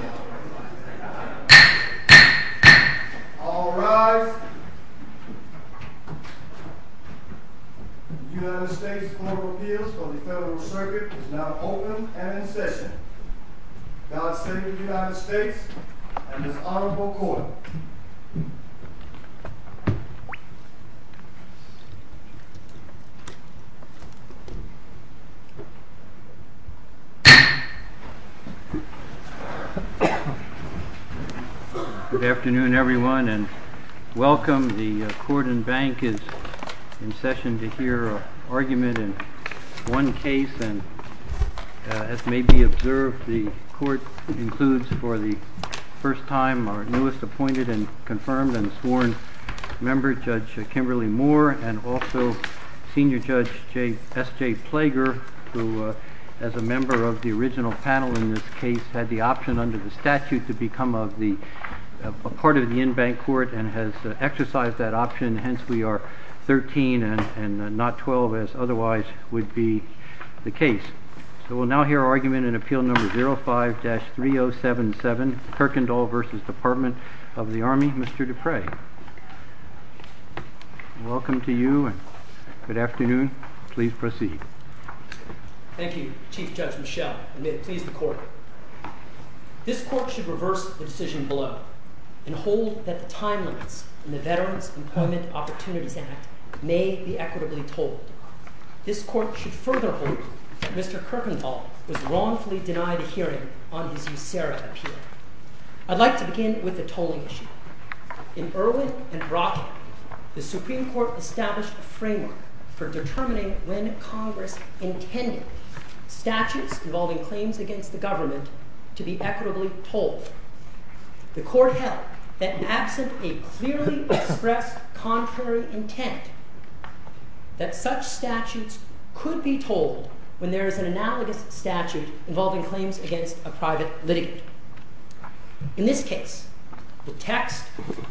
All rise United States Court of Appeals for the Federal Circuit is now open and in session. God save the United States and His Honorable Court. Good afternoon everyone and welcome. The court and bank is in session to hear an argument in one case. As may be observed, the court includes for the first time our newest appointed and confirmed and sworn member Judge Kimberly Moore and also Senior Judge S.J. Plager who as a member of the original panel in this case had the option under the statute to become a part of the in-bank court and has exercised that option, hence we are 13 and not 12 as otherwise would be the case. So we'll now hear argument in Appeal No. 05-3077 Kirkendall v. Department of the Army, Mr. Dupre. Welcome to you and good afternoon. Please proceed. Thank you, Chief Judge Michel and may it please the court. This court should reverse the decision below and hold that the time limits in the Veterans Employment Opportunities Act may be equitably told. This court should further hold that Mr. Kirkendall was wrongfully denied a hearing on his USERRA appeal. I'd like to begin with the tolling issue. In Irwin and Brock, the Supreme Court established a framework for determining when Congress intended statutes involving claims against the government to be equitably told. The court held that absent a clearly expressed contrary intent that such statutes could be told when there is an analogous statute involving claims against a private litigant. In this case, the text,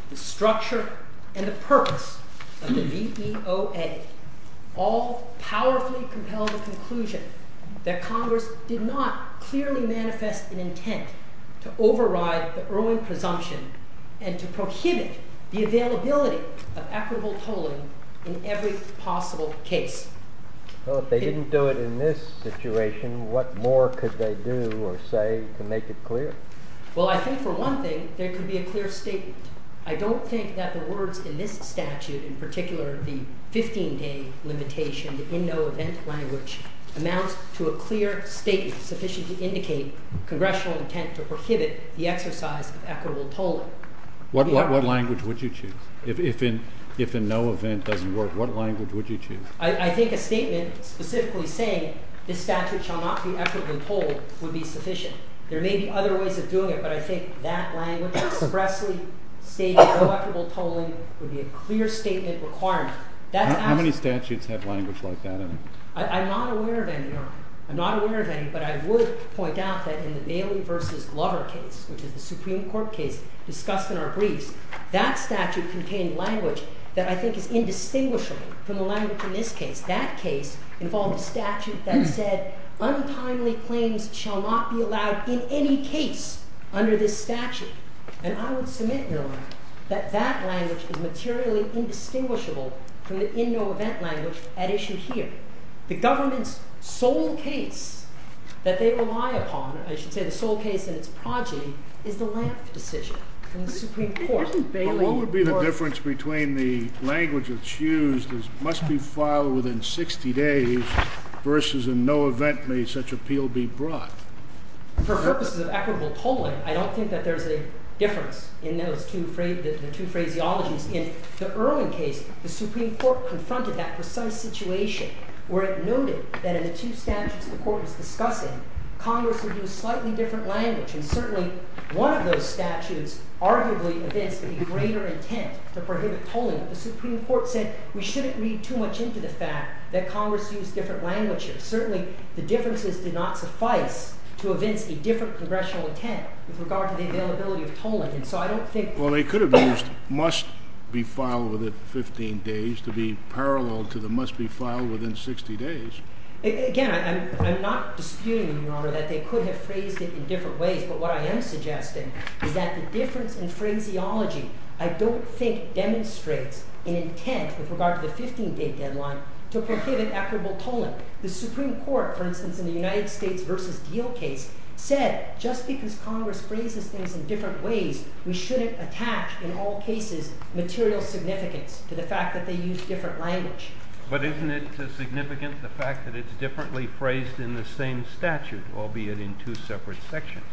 the structure, and the purpose of the VEOA all powerfully compel the conclusion that Congress did not clearly manifest an intent to override the Irwin presumption and to prohibit the availability of equitable tolling in every possible case. Well, if they didn't do it in this situation, what more could they do or say to make it clear? Well, I think for one thing, there could be a clear statement. I don't think that the words in this statute, in particular the 15-day limitation, the in-no-event language, amounts to a clear statement sufficient to indicate congressional intent to prohibit the exercise of equitable tolling. What language would you choose? If in-no-event doesn't work, what language would you choose? I think a statement specifically saying this statute shall not be equitably tolled would be sufficient. There may be other ways of doing it, but I think that language expressly stating no equitable tolling would be a clear statement requirement. How many statutes have language like that in them? I'm not aware of any, Your Honor. I'm not aware of any, but I would point out that in the Bailey v. Glover case, which is the Supreme Court case discussed in our briefs, that statute contained language that I think is indistinguishable from the language in this case. That case involved a statute that said, untimely claims shall not be allowed in any case under this statute. And I would submit, Your Honor, that that language is materially indistinguishable from the in-no-event language at issue here. The government's sole case that they rely upon, I should say the sole case in its project, is the Lampf decision from the Supreme Court. What would be the difference between the language that's used as must be filed within 60 days versus in-no-event may such appeal be brought? For purposes of equitable tolling, I don't think that there's a difference in those two phraseologies. In the Irwin case, the Supreme Court confronted that precise situation where it noted that in the two statutes the Court was discussing, Congress would use slightly different language. And certainly, one of those statutes arguably evinced a greater intent to prohibit tolling. The Supreme Court said we shouldn't read too much into the fact that Congress used different languages. Certainly, the differences did not suffice to evince a different congressional intent with regard to the availability of tolling. Well, they could have used must be filed within 15 days to be parallel to the must be filed within 60 days. Again, I'm not disputing, Your Honor, that they could have phrased it in different ways. But what I am suggesting is that the difference in phraseology I don't think demonstrates an intent with regard to the 15-day deadline to prohibit equitable tolling. The Supreme Court, for instance, in the United States v. Deal case, said just because Congress phrases things in different ways, we shouldn't attach, in all cases, material significance to the fact that they used different language. But isn't it significant the fact that it's differently phrased in the same statute, albeit in two separate sections?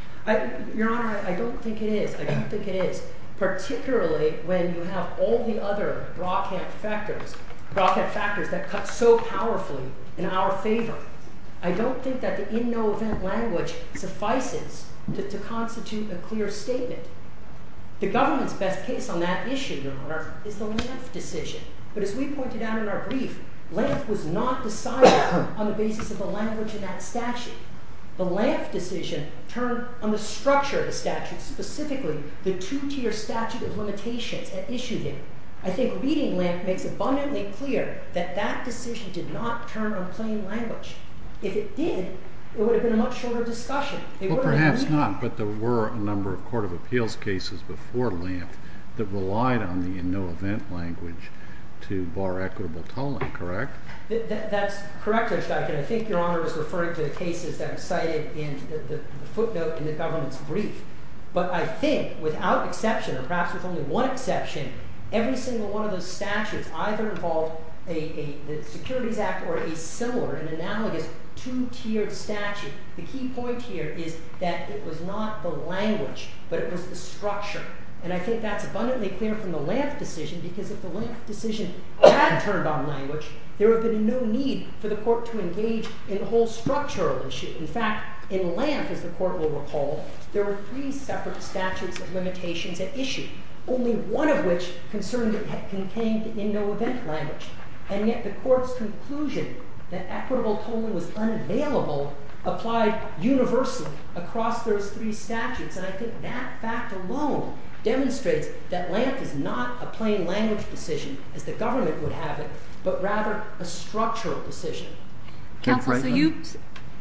Your Honor, I don't think it is. I don't think it is, particularly when you have all the other rockhead factors that cut so powerfully in our favor. I don't think that the in no event language suffices to constitute a clear statement. The government's best case on that issue, Your Honor, is the Lampf decision. But as we pointed out in our brief, Lampf was not decided on the basis of the language in that statute. The Lampf decision turned on the structure of the statute, specifically the two-tier statute of limitations that issued it. I think reading Lampf makes abundantly clear that that decision did not turn on plain language. If it did, it would have been a much shorter discussion. Well, perhaps not, but there were a number of court of appeals cases before Lampf that relied on the in no event language to bar equitable tolling, correct? That's correct, Your Honor, and I think Your Honor was referring to the cases that were cited in the footnote in the government's brief. But I think, without exception, or perhaps with only one exception, every single one of those statutes either involved the Securities Act or a similar and analogous two-tiered statute. The key point here is that it was not the language, but it was the structure. And I think that's abundantly clear from the Lampf decision, because if the Lampf decision had turned on language, there would have been no need for the court to engage in the whole structural issue. In fact, in Lampf, as the court will recall, there were three separate statutes of limitations at issue, only one of which contained the in no event language. And yet the court's conclusion that equitable tolling was unavailable applied universally across those three statutes. And I think that fact alone demonstrates that Lampf is not a plain language decision, as the government would have it, but rather a structural decision. Counsel,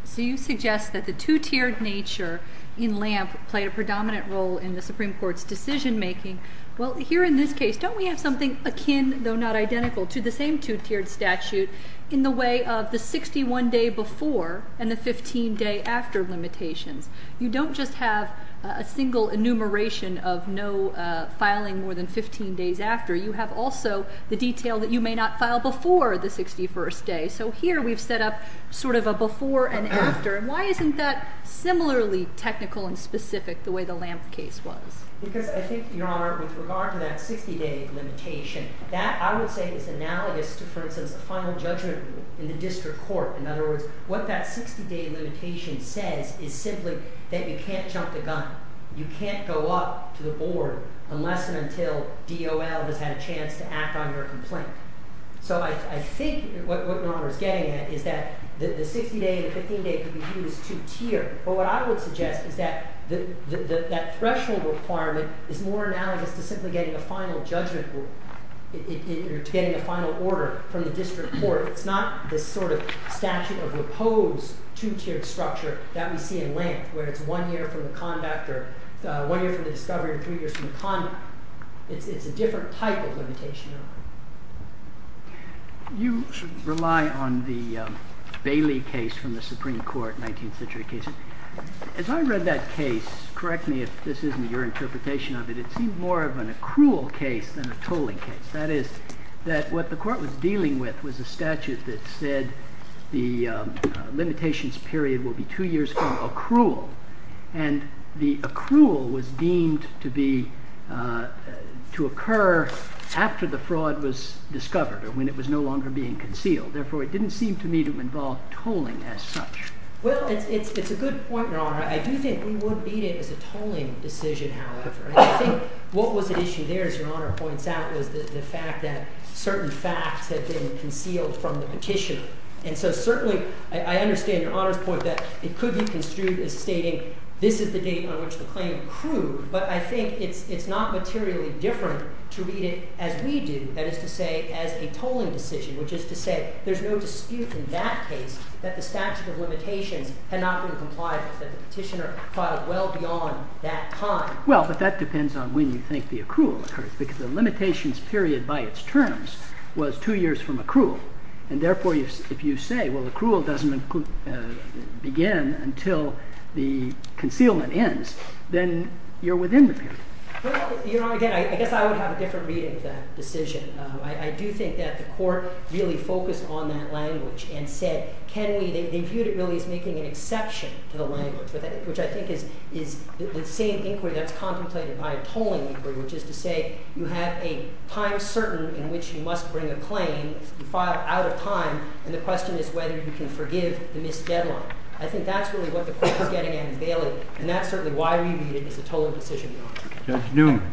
so you suggest that the two-tiered nature in Lampf played a predominant role in the Supreme Court's decision making. Well, here in this case, don't we have something akin, though not identical, to the same two-tiered statute in the way of the 61 day before and the 15 day after limitations? You don't just have a single enumeration of no filing more than 15 days after. You have also the detail that you may not file before the 61st day. So here we've set up sort of a before and after. And why isn't that similarly technical and specific the way the Lampf case was? Because I think, Your Honor, with regard to that 60 day limitation, that I would say is analogous to, for instance, a final judgment rule in the district court. In other words, what that 60 day limitation says is simply that you can't jump the gun. You can't go up to the board unless and until DOL has had a chance to act on your complaint. So I think what Your Honor is getting at is that the 60 day and the 15 day could be used two-tiered. But what I would suggest is that that threshold requirement is more analogous to simply getting a final judgment rule or to getting a final order from the district court. It's not this sort of statute of opposed two-tiered structure that we see in Lampf where it's one year from the conduct or one year from the discovery and three years from the conduct. It's a different type of limitation. You rely on the Bailey case from the Supreme Court, 19th century case. As I read that case, correct me if this isn't your interpretation of it, it seemed more of an accrual case than a tolling case. That is, that what the court was dealing with was a statute that said the limitations period will be two years from accrual. And the accrual was deemed to occur after the fraud was discovered or when it was no longer being concealed. Therefore, it didn't seem to me to involve tolling as such. Well, it's a good point, Your Honor. I do think we would beat it as a tolling decision, however. I think what was at issue there, as Your Honor points out, was the fact that certain facts had been concealed from the petitioner. And so certainly I understand Your Honor's point that it could be construed as stating this is the date on which the claim accrued. But I think it's not materially different to read it as we do, that is to say as a tolling decision, which is to say there's no dispute in that case that the statute of limitations had not been complied with, that the petitioner filed well beyond that time. Well, but that depends on when you think the accrual occurs, because the limitations period by its terms was two years from accrual. And therefore, if you say, well, accrual doesn't begin until the concealment ends, then you're within the period. Your Honor, again, I guess I would have a different reading of that decision. I do think that the court really focused on that language and said, can we – they viewed it really as making an exception to the language, which I think is the same inquiry that's contemplated by a tolling inquiry, which is to say you have a time certain in which you must bring a claim, you file out of time, and the question is whether you can forgive the missed deadline. I think that's really what the court was getting at in Bailey, and that's certainly why we read it as a tolling decision, Your Honor. Judge Neumann.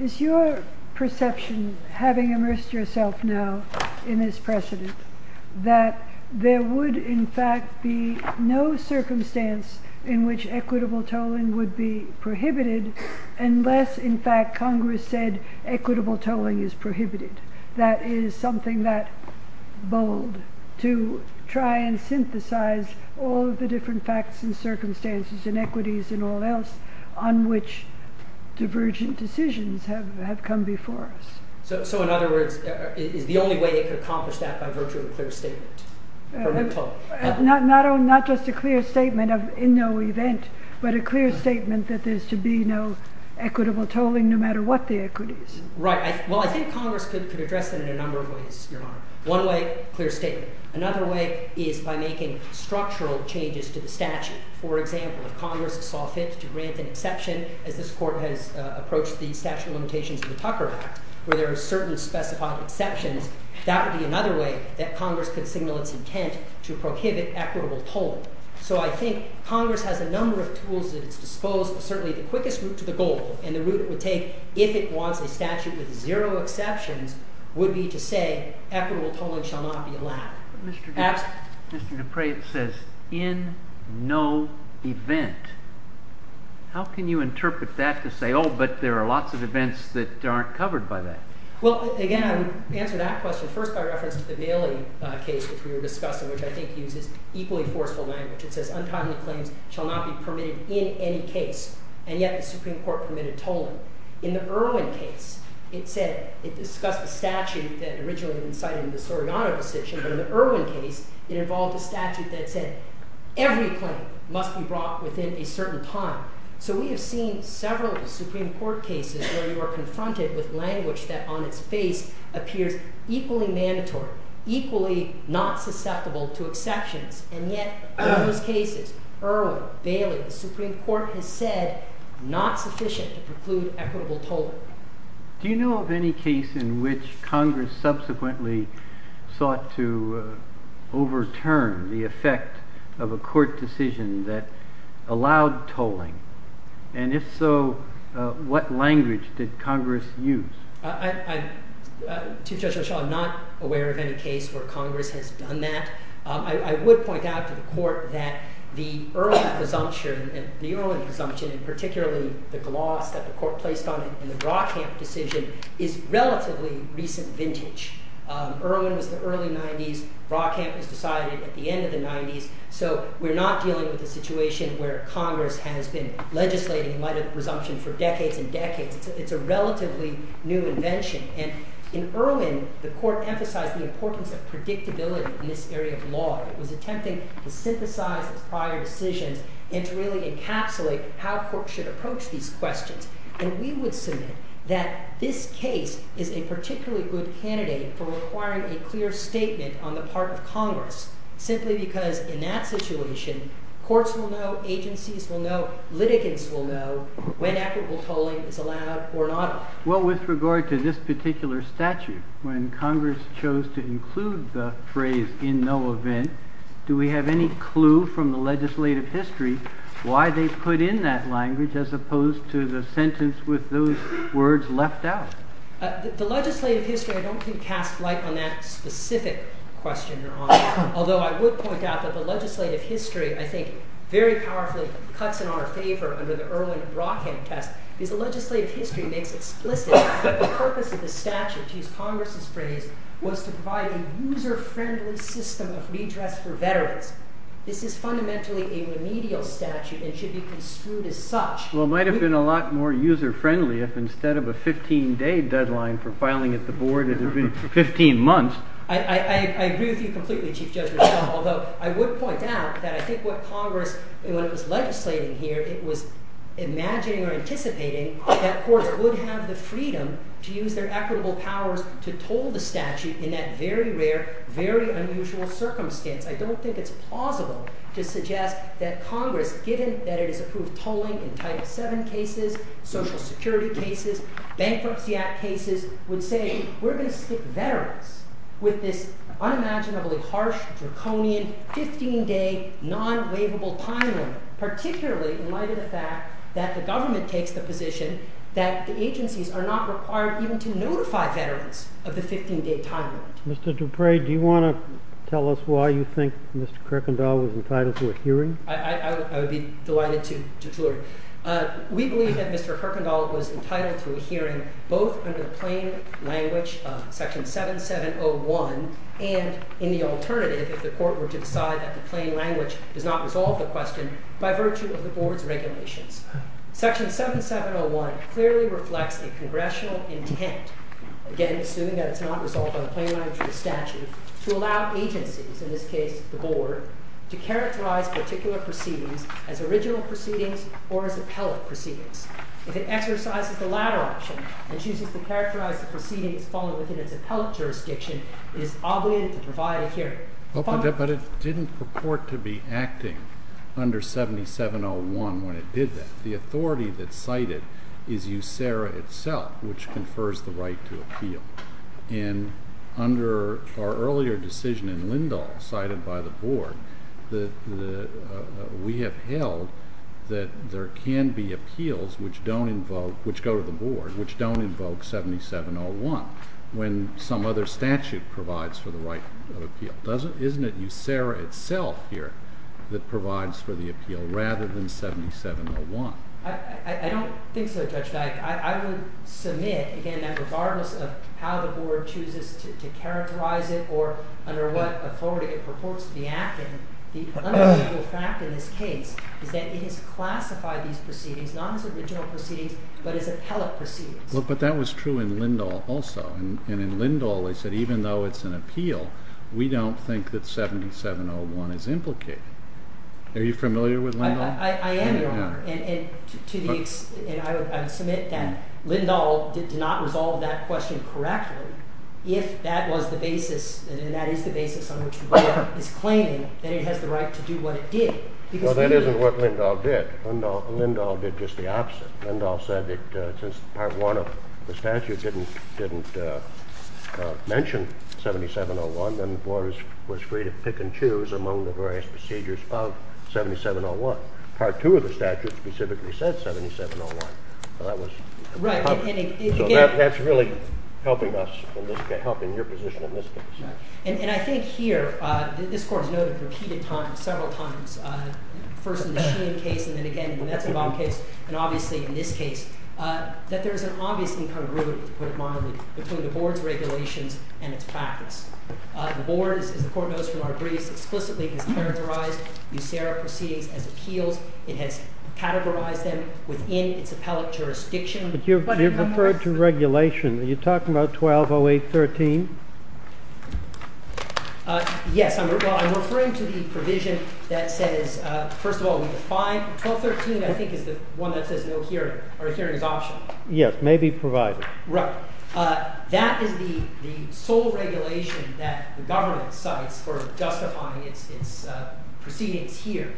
Is your perception, having immersed yourself now in this precedent, that there would, in fact, be no circumstance in which equitable tolling would be prohibited unless, in fact, Congress said equitable tolling is prohibited? That is something that bold to try and synthesize all of the different facts and circumstances and equities and all else on which divergent decisions have come before us. So, in other words, is the only way it could accomplish that by virtue of a clear statement? Not just a clear statement of in no event, but a clear statement that there's to be no equitable tolling no matter what the equities. Right. Well, I think Congress could address it in a number of ways, Your Honor. One way, clear statement. Another way is by making structural changes to the statute. For example, if Congress saw fit to grant an exception, as this court has approached the statute of limitations of the Tucker Act, where there are certain specified exceptions, that would be another way that Congress could signal its intent to prohibit equitable tolling. So I think Congress has a number of tools at its disposal. Certainly, the quickest route to the goal and the route it would take if it wants a statute with zero exceptions would be to say equitable tolling shall not be allowed. But, Mr. Dupre, it says in no event. How can you interpret that to say, oh, but there are lots of events that aren't covered by that? Well, again, to answer that question, first by reference to the Bailey case, which we were discussing, which I think uses equally forceful language. It says untimely claims shall not be permitted in any case. And yet the Supreme Court permitted tolling. In the Irwin case, it discussed the statute that originally incited the Soriano decision. But in the Irwin case, it involved a statute that said every claim must be brought within a certain time. So we have seen several Supreme Court cases where you are confronted with language that on its face appears equally mandatory, equally not susceptible to exceptions. And yet in those cases, Irwin, Bailey, the Supreme Court has said not sufficient to preclude equitable tolling. Do you know of any case in which Congress subsequently sought to overturn the effect of a court decision that allowed tolling? And if so, what language did Congress use? To Judge Rochelle, I'm not aware of any case where Congress has done that. I would point out to the court that the Irwin presumption and particularly the gloss that the court placed on it in the Rockham decision is relatively recent vintage. Irwin was the early 90s. Rockham was decided at the end of the 90s. So we're not dealing with a situation where Congress has been legislating light of presumption for decades and decades. It's a relatively new invention. And in Irwin, the court emphasized the importance of predictability in this area of law. It was attempting to synthesize its prior decisions and to really encapsulate how courts should approach these questions. And we would submit that this case is a particularly good candidate for requiring a clear statement on the part of Congress simply because in that situation, courts will know, agencies will know, litigants will know when equitable tolling is allowed or not allowed. Well, with regard to this particular statute, when Congress chose to include the phrase in no event, do we have any clue from the legislative history why they put in that language as opposed to the sentence with those words left out? The legislative history, I don't think, casts light on that specific question, Your Honor. Although I would point out that the legislative history, I think, very powerfully cuts in our favor under the Irwin-Rockham test. Because the legislative history makes explicit that the purpose of the statute, to use Congress's phrase, was to provide a user-friendly system of redress for veterans. This is fundamentally a remedial statute and should be construed as such. Well, it might have been a lot more user-friendly if instead of a 15-day deadline for filing at the board, it had been 15 months. I agree with you completely, Chief Judge Rizzo, although I would point out that I think what Congress, when it was legislating here, it was imagining or anticipating that courts would have the freedom to use their equitable powers to toll the statute in that very rare, very unusual circumstance. I don't think it's plausible to suggest that Congress, given that it has approved tolling in Title VII cases, Social Security cases, Bankruptcy Act cases, would say we're going to stick veterans with this unimaginably harsh, draconian, 15-day, non-waivable time limit, particularly in light of the fact that the government takes the position that the agencies are not required even to notify veterans of the 15-day time limit. Mr. Dupre, do you want to tell us why you think Mr. Kerkendall was entitled to a hearing? I would be delighted to. We believe that Mr. Kerkendall was entitled to a hearing both under the plain language of Section 7701 and in the alternative if the court were to decide that the plain language does not resolve the question by virtue of the board's regulations. Section 7701 clearly reflects a congressional intent, again, assuming that it's not resolved by the plain language of the statute, to allow agencies, in this case the board, to characterize particular proceedings as original proceedings or as appellate proceedings. If it exercises the latter option and chooses to characterize the proceedings following within its appellate jurisdiction, it is obligated to provide a hearing. But it didn't purport to be acting under 7701 when it did that. The authority that cited is USERRA itself, which confers the right to appeal. And under our earlier decision in Lindahl cited by the board, we have held that there can be appeals which go to the board which don't invoke 7701 when some other statute provides for the right of appeal. Isn't it USERRA itself here that provides for the appeal rather than 7701? I don't think so, Judge Dyke. I would submit, again, that regardless of how the board chooses to characterize it or under what authority it purports to be acting, the unequivocal fact in this case is that it has classified these proceedings not as original proceedings but as appellate proceedings. But that was true in Lindahl also. And in Lindahl they said even though it's an appeal, we don't think that 7701 is implicated. Are you familiar with Lindahl? I am, Your Honor. And I would submit that Lindahl did not resolve that question correctly if that was the basis and that is the basis on which the board is claiming that it has the right to do what it did. No, that isn't what Lindahl did. Lindahl did just the opposite. Lindahl said that since Part 1 of the statute didn't mention 7701, then the board was free to pick and choose among the various procedures of 7701. Part 2 of the statute specifically said 7701. So that's really helping us in this case, helping your position in this case. And I think here, this Court has noted repeated times, several times, first in the Sheehan case and then again in the Metzlbaum case, and obviously in this case, that there is an obvious incongruity, to put it mildly, between the board's regulations and its practice. The board, as the Court knows from our briefs, explicitly has characterized USERA proceedings as appeals. It has categorized them within its appellate jurisdiction. But you've referred to regulation. Are you talking about 1208.13? Yes. I'm referring to the provision that says, first of all, we define. 1213, I think, is the one that says no hearing is optional. Yes, may be provided. Right. That is the sole regulation that the government cites for justifying its proceedings here.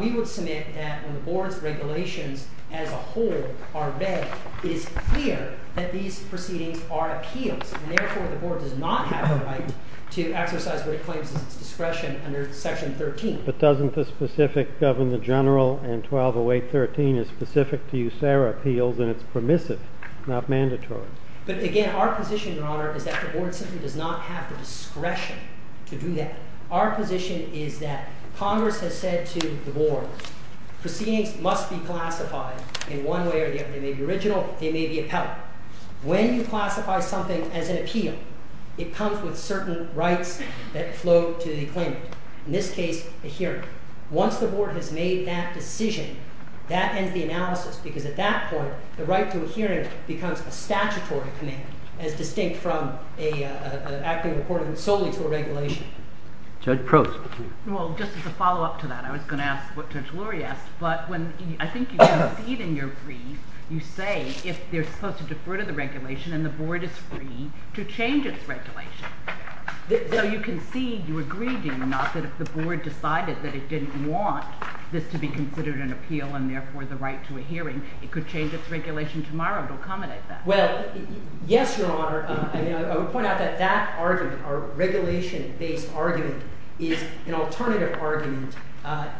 We would submit that when the board's regulations as a whole are read, it is clear that these proceedings are appeals. And therefore, the board does not have a right to exercise what it claims is its discretion under section 13. But doesn't the specific Governor General and 1208.13 is specific to USERA appeals and it's permissive, not mandatory? But again, our position, Your Honor, is that the board simply does not have the discretion to do that. Our position is that Congress has said to the board, proceedings must be classified in one way or the other. They may be original. They may be appellate. When you classify something as an appeal, it comes with certain rights that flow to the claimant. In this case, a hearing. Once the board has made that decision, that ends the analysis. Because at that point, the right to a hearing becomes a statutory command as distinct from an acting according solely to a regulation. Judge Prost. Well, just as a follow-up to that, I was going to ask what Judge Lurie asked. But when I think you can see it in your brief, you say if they're supposed to defer to the regulation and the board is free to change its regulation. So you can see you agreed in, not that if the board decided that it didn't want this to be considered an appeal and therefore the right to a hearing, it could change its regulation tomorrow to accommodate that. Well, yes, Your Honor. I would point out that that argument, our regulation-based argument, is an alternative argument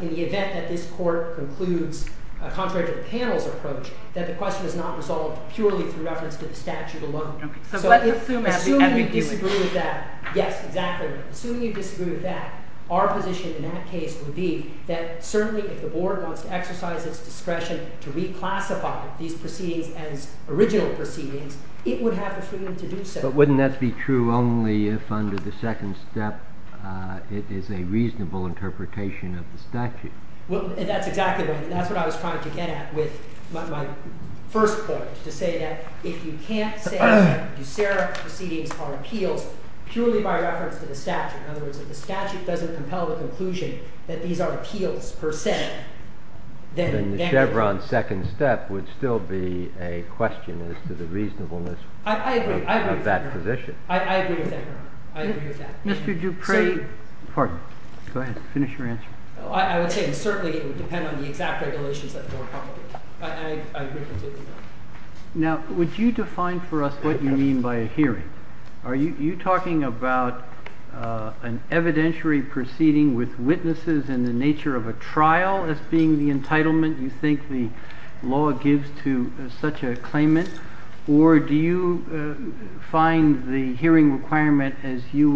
in the event that this court concludes, contrary to the panel's approach, that the question is not resolved purely through reference to the statute alone. Assuming you disagree with that, yes, exactly. Assuming you disagree with that, our position in that case would be that certainly if the board wants to exercise its discretion to reclassify these proceedings as original proceedings, it would have the freedom to do so. But wouldn't that be true only if under the second step it is a reasonable interpretation of the statute? Well, that's exactly right. That's what I was trying to get at with my first point, to say that if you can't say that Duceyra proceedings are appeals purely by reference to the statute, in other words, if the statute doesn't compel the conclusion that these are appeals per se, then— Then the Chevron second step would still be a question as to the reasonableness of that position. I agree. I agree with that, Your Honor. I agree with that. Mr. Dupree— Pardon? Go ahead. Finish your answer. I would say that certainly it would depend on the exact regulations that the board proposed. I agree completely with that. Now, would you define for us what you mean by a hearing? Are you talking about an evidentiary proceeding with witnesses in the nature of a trial as being the entitlement you think the law gives to such a claimant? Or do you find the hearing requirement as you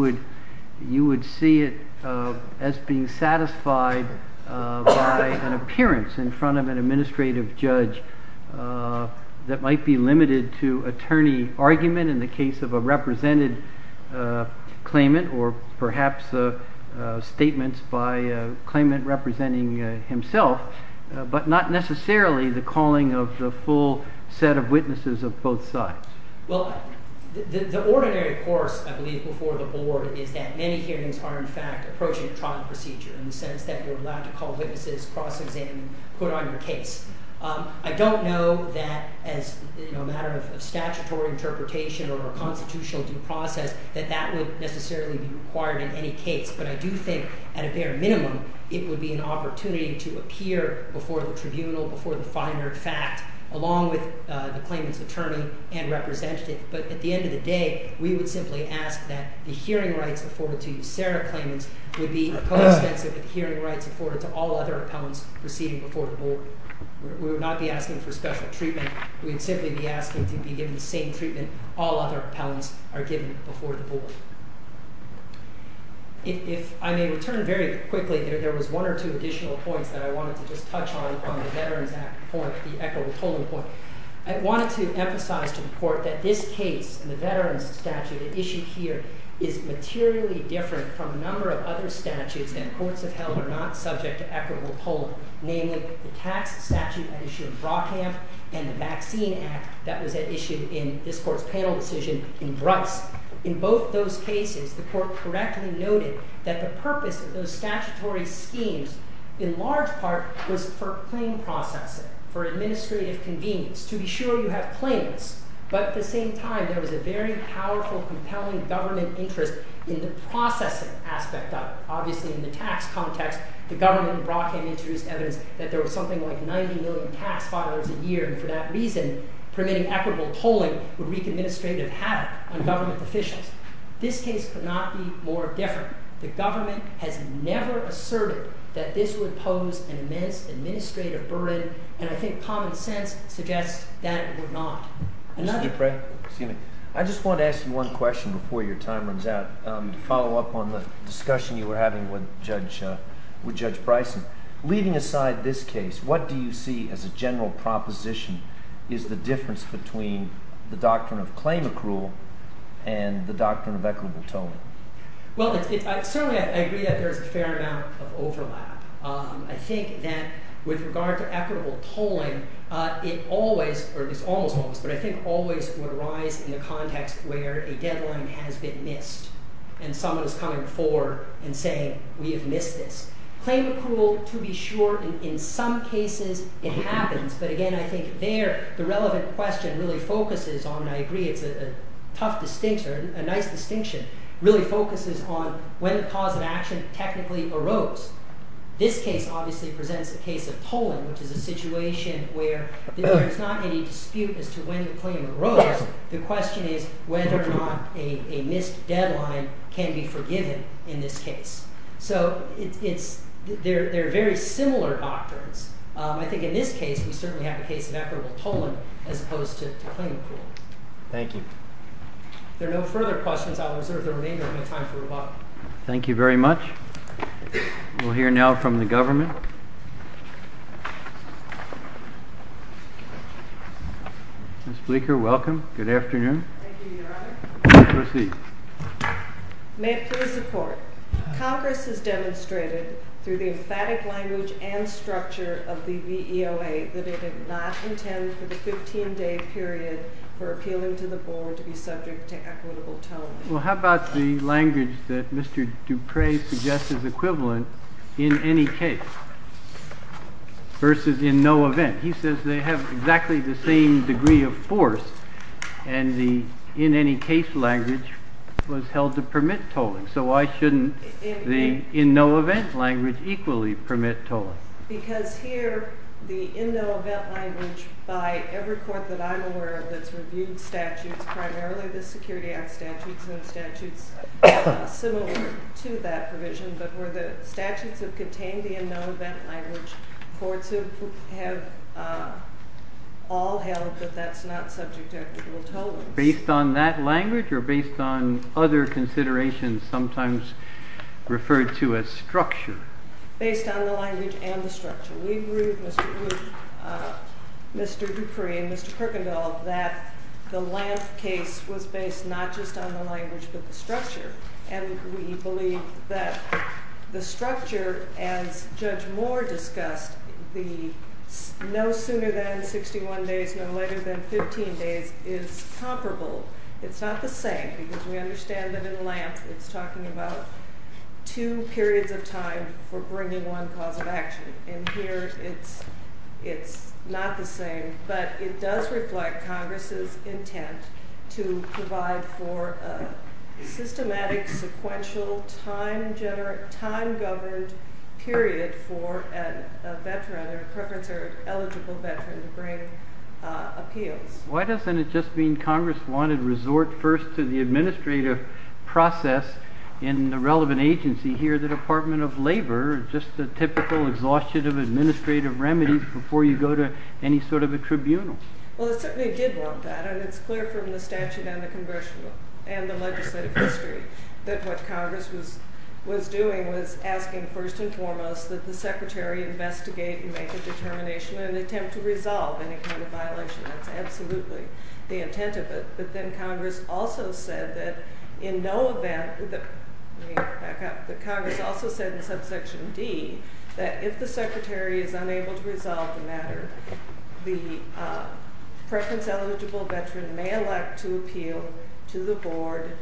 would see it as being satisfied by an appearance in front of an administrative judge that might be limited to attorney argument in the case of a represented claimant or perhaps statements by a claimant representing himself, but not necessarily the calling of the full set of witnesses of both sides? Well, the ordinary course, I believe, before the board is that many hearings are, in fact, approaching a trial procedure in the sense that you're allowed to call witnesses, cross-examine, put on your case. I don't know that as a matter of statutory interpretation or a constitutional due process that that would necessarily be required in any case, but I do think at a bare minimum it would be an opportunity to appear before the tribunal, before the finer fact, along with the claimant's attorney and representative. But at the end of the day, we would simply ask that the hearing rights afforded to you, Sarah claimants, would be co-expensive with hearing rights afforded to all other appellants proceeding before the board. We would not be asking for special treatment. We would simply be asking to be given the same treatment all other appellants are given before the board. If I may return very quickly, there was one or two additional points that I wanted to just touch on on the Veterans Act point, the equitable polling point. I wanted to emphasize to the court that this case, the veterans statute at issue here, is materially different from a number of other statutes that courts have held are not subject to equitable polling, namely the tax statute at issue in Brockhamp and the Vaccine Act that was at issue in this court's panel decision in Brutts. In both those cases, the court correctly noted that the purpose of those statutory schemes, in large part, was for claim processing, for administrative convenience, to be sure you have claimants. But at the same time, there was a very powerful, compelling government interest in the processing aspect of it. Obviously, in the tax context, the government in Brockhamp introduced evidence that there was something like 90 million tax filings a year, and for that reason, permitting equitable polling would wreak administrative havoc on government officials. This case could not be more different. The government has never asserted that this would pose an immense administrative burden, and I think common sense suggests that it would not. Mr. Dupre? Excuse me. I just want to ask you one question before your time runs out to follow up on the discussion you were having with Judge Bryson. Leaving aside this case, what do you see as a general proposition is the difference between the doctrine of claimant rule and the doctrine of equitable polling? Well, certainly I agree that there is a fair amount of overlap. I think that with regard to equitable polling, it always, or it's almost always, but I think always would arise in the context where a deadline has been missed and someone is coming forward and saying, we have missed this. Claimant rule, to be sure, in some cases, it happens, but again, I think there, the relevant question really focuses on, and I agree it's a tough distinction, a nice distinction, really focuses on when the cause of action technically arose. This case obviously presents a case of tolling, which is a situation where there is not any dispute as to when the claim arose. The question is whether or not a missed deadline can be forgiven in this case. So they're very similar doctrines. I think in this case, we certainly have a case of equitable tolling as opposed to claimant rule. Thank you. If there are no further questions, I'll reserve the remainder of my time for rebuttal. Thank you very much. We'll hear now from the government. Ms. Bleeker, welcome. Good afternoon. Thank you, Your Honor. Please proceed. May it please the Court. Congress has demonstrated through the emphatic language and structure of the VEOA that it did not intend for the 15-day period for appealing to the board to be subject to equitable tolling. Well, how about the language that Mr. Dupre suggests is equivalent in any case versus in no event? He says they have exactly the same degree of force, and the in any case language was held to permit tolling. So why shouldn't the in no event language equally permit tolling? Because here, the in no event language by every court that I'm aware of that's reviewed statutes, primarily the Security Act statutes and statutes similar to that provision, but where the statutes have contained the in no event language, courts have all held that that's not subject to equitable tolling. Based on that language or based on other considerations sometimes referred to as structure? Based on the language and the structure. We agree with Mr. Dupre and Mr. Kuykendall that the Lanth case was based not just on the language but the structure, and we believe that the structure, as Judge Moore discussed, the no sooner than 61 days, no later than 15 days is comparable. It's not the same, because we understand that in Lanth it's talking about two periods of time for bringing one cause of action. And here it's not the same, but it does reflect Congress's intent to provide for a systematic, sequential, time-governed period for a veteran, a preference or eligible veteran, to bring appeals. Why doesn't it just mean Congress wanted to resort first to the administrative process in the relevant agency here, the Department of Labor, just the typical exhaustion of administrative remedies before you go to any sort of a tribunal? Well, it certainly did want that, and it's clear from the statute and the legislative history that what Congress was doing was asking first and foremost that the Secretary investigate and make a determination and attempt to resolve any kind of violation. That's absolutely the intent of it, but then Congress also said that in no event, let me back up, that Congress also said in subsection D that if the Secretary is unable to resolve the matter, the preference-eligible veteran may elect to appeal to the Board,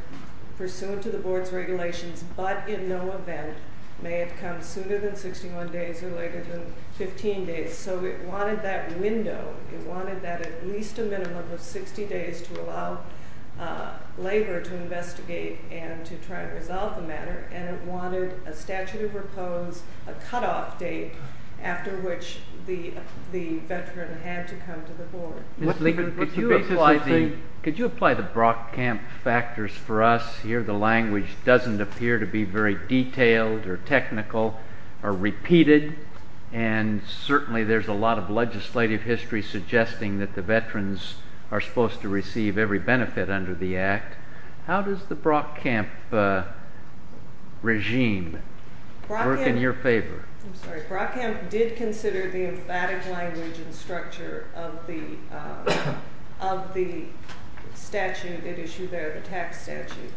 pursuant to the Board's regulations, but in no event may it come sooner than 61 days or later than 15 days. So it wanted that window. It wanted that at least a minimum of 60 days to allow Labor to investigate and to try to resolve the matter, and it wanted a statute of repose, a cutoff date after which the veteran had to come to the Board. Could you apply the Brock Camp factors for us? Here the language doesn't appear to be very detailed or technical or repeated, and certainly there's a lot of legislative history suggesting that the veterans are supposed to receive every benefit under the Act. How does the Brock Camp regime work in your favor? I'm sorry. Brock Camp did consider the emphatic language and structure of the statute that issued there, the tax statute,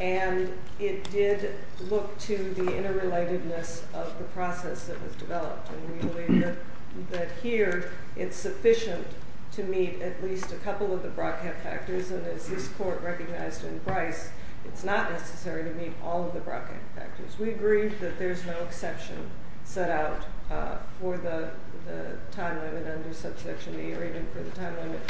and it did look to the interrelatedness of the process that was developed, and we believe that here it's sufficient to meet at least a couple of the Brock Camp factors, and as this Court recognized in Bryce, it's not necessary to meet all of the Brock Camp factors. We agree that there's no exception set out for the time limit under Subsection E or even for the time limit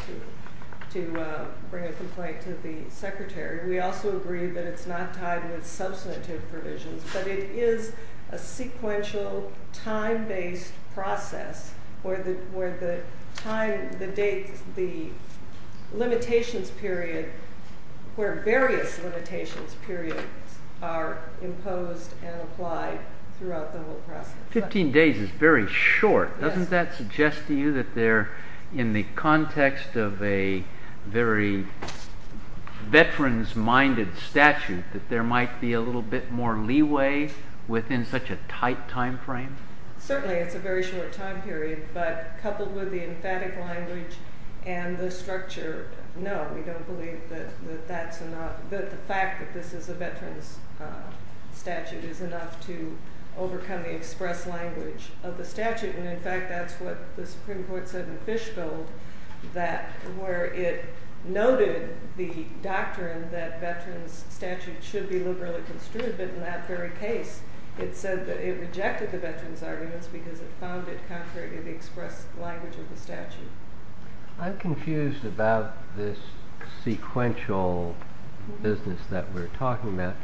to bring a complaint to the Secretary. We also agree that it's not tied with substantive provisions, but it is a sequential time-based process where the limitations period, where various limitations periods are imposed and applied throughout the whole process. Fifteen days is very short. Doesn't that suggest to you that they're in the context of a very veterans-minded statute, that there might be a little bit more leeway within such a tight time frame? Certainly, it's a very short time period, but coupled with the emphatic language and the structure, no, we don't believe that the fact that this is a veterans statute is enough to overcome the express language of the statute, and in fact, that's what the Supreme Court said in Fishgold, that where it noted the doctrine that veterans statutes should be liberally construed, but in that very case, it rejected the veterans arguments because it found it contrary to the express language of the statute. I'm confused about this sequential business that we're talking about.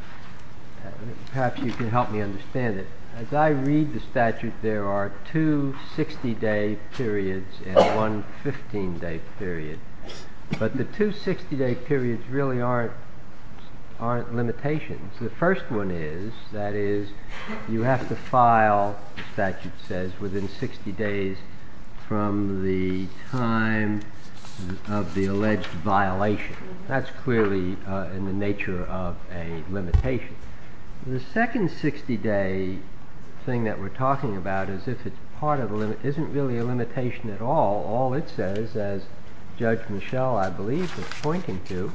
Perhaps you can help me understand it. As I read the statute, there are two 60-day periods and one 15-day period, but the two 60-day periods really aren't limitations. The first one is, that is, you have to file, the statute says, within 60 days from the time of the alleged violation. That's clearly in the nature of a limitation. The second 60-day thing that we're talking about isn't really a limitation at all. All it says, as Judge Michelle, I believe, was pointing to,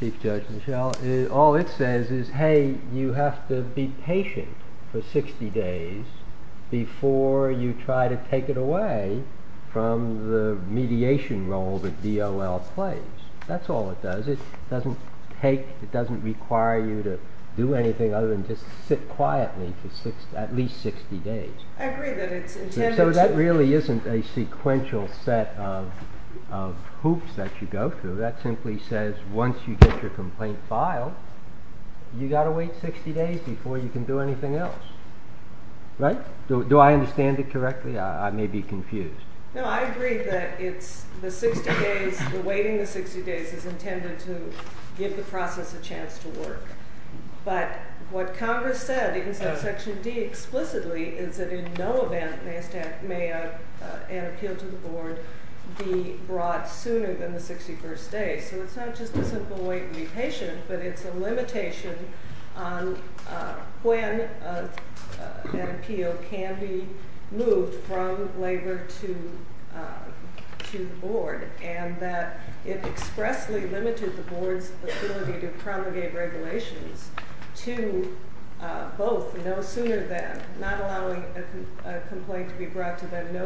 Chief Judge Michelle, all it says is, hey, you have to be patient for 60 days before you try to take it away from the mediation role that DOL plays. That's all it does. It doesn't take, it doesn't require you to do anything other than just sit quietly for at least 60 days. I agree that it's intended to... So that really isn't a sequential set of hoops that you go through. That simply says, once you get your complaint filed, you've got to wait 60 days before you can do anything else. Right? Do I understand it correctly? I may be confused. No, I agree that it's the 60 days, the waiting the 60 days is intended to give the process a chance to work. But what Congress said in Section D explicitly is that in no event may an appeal to the board be brought sooner than the 61st day. So it's not just a simple wait and be patient, but it's a limitation on when an appeal can be moved from labor to the board. And that it expressly limited the board's ability to promulgate regulations to both no sooner than, no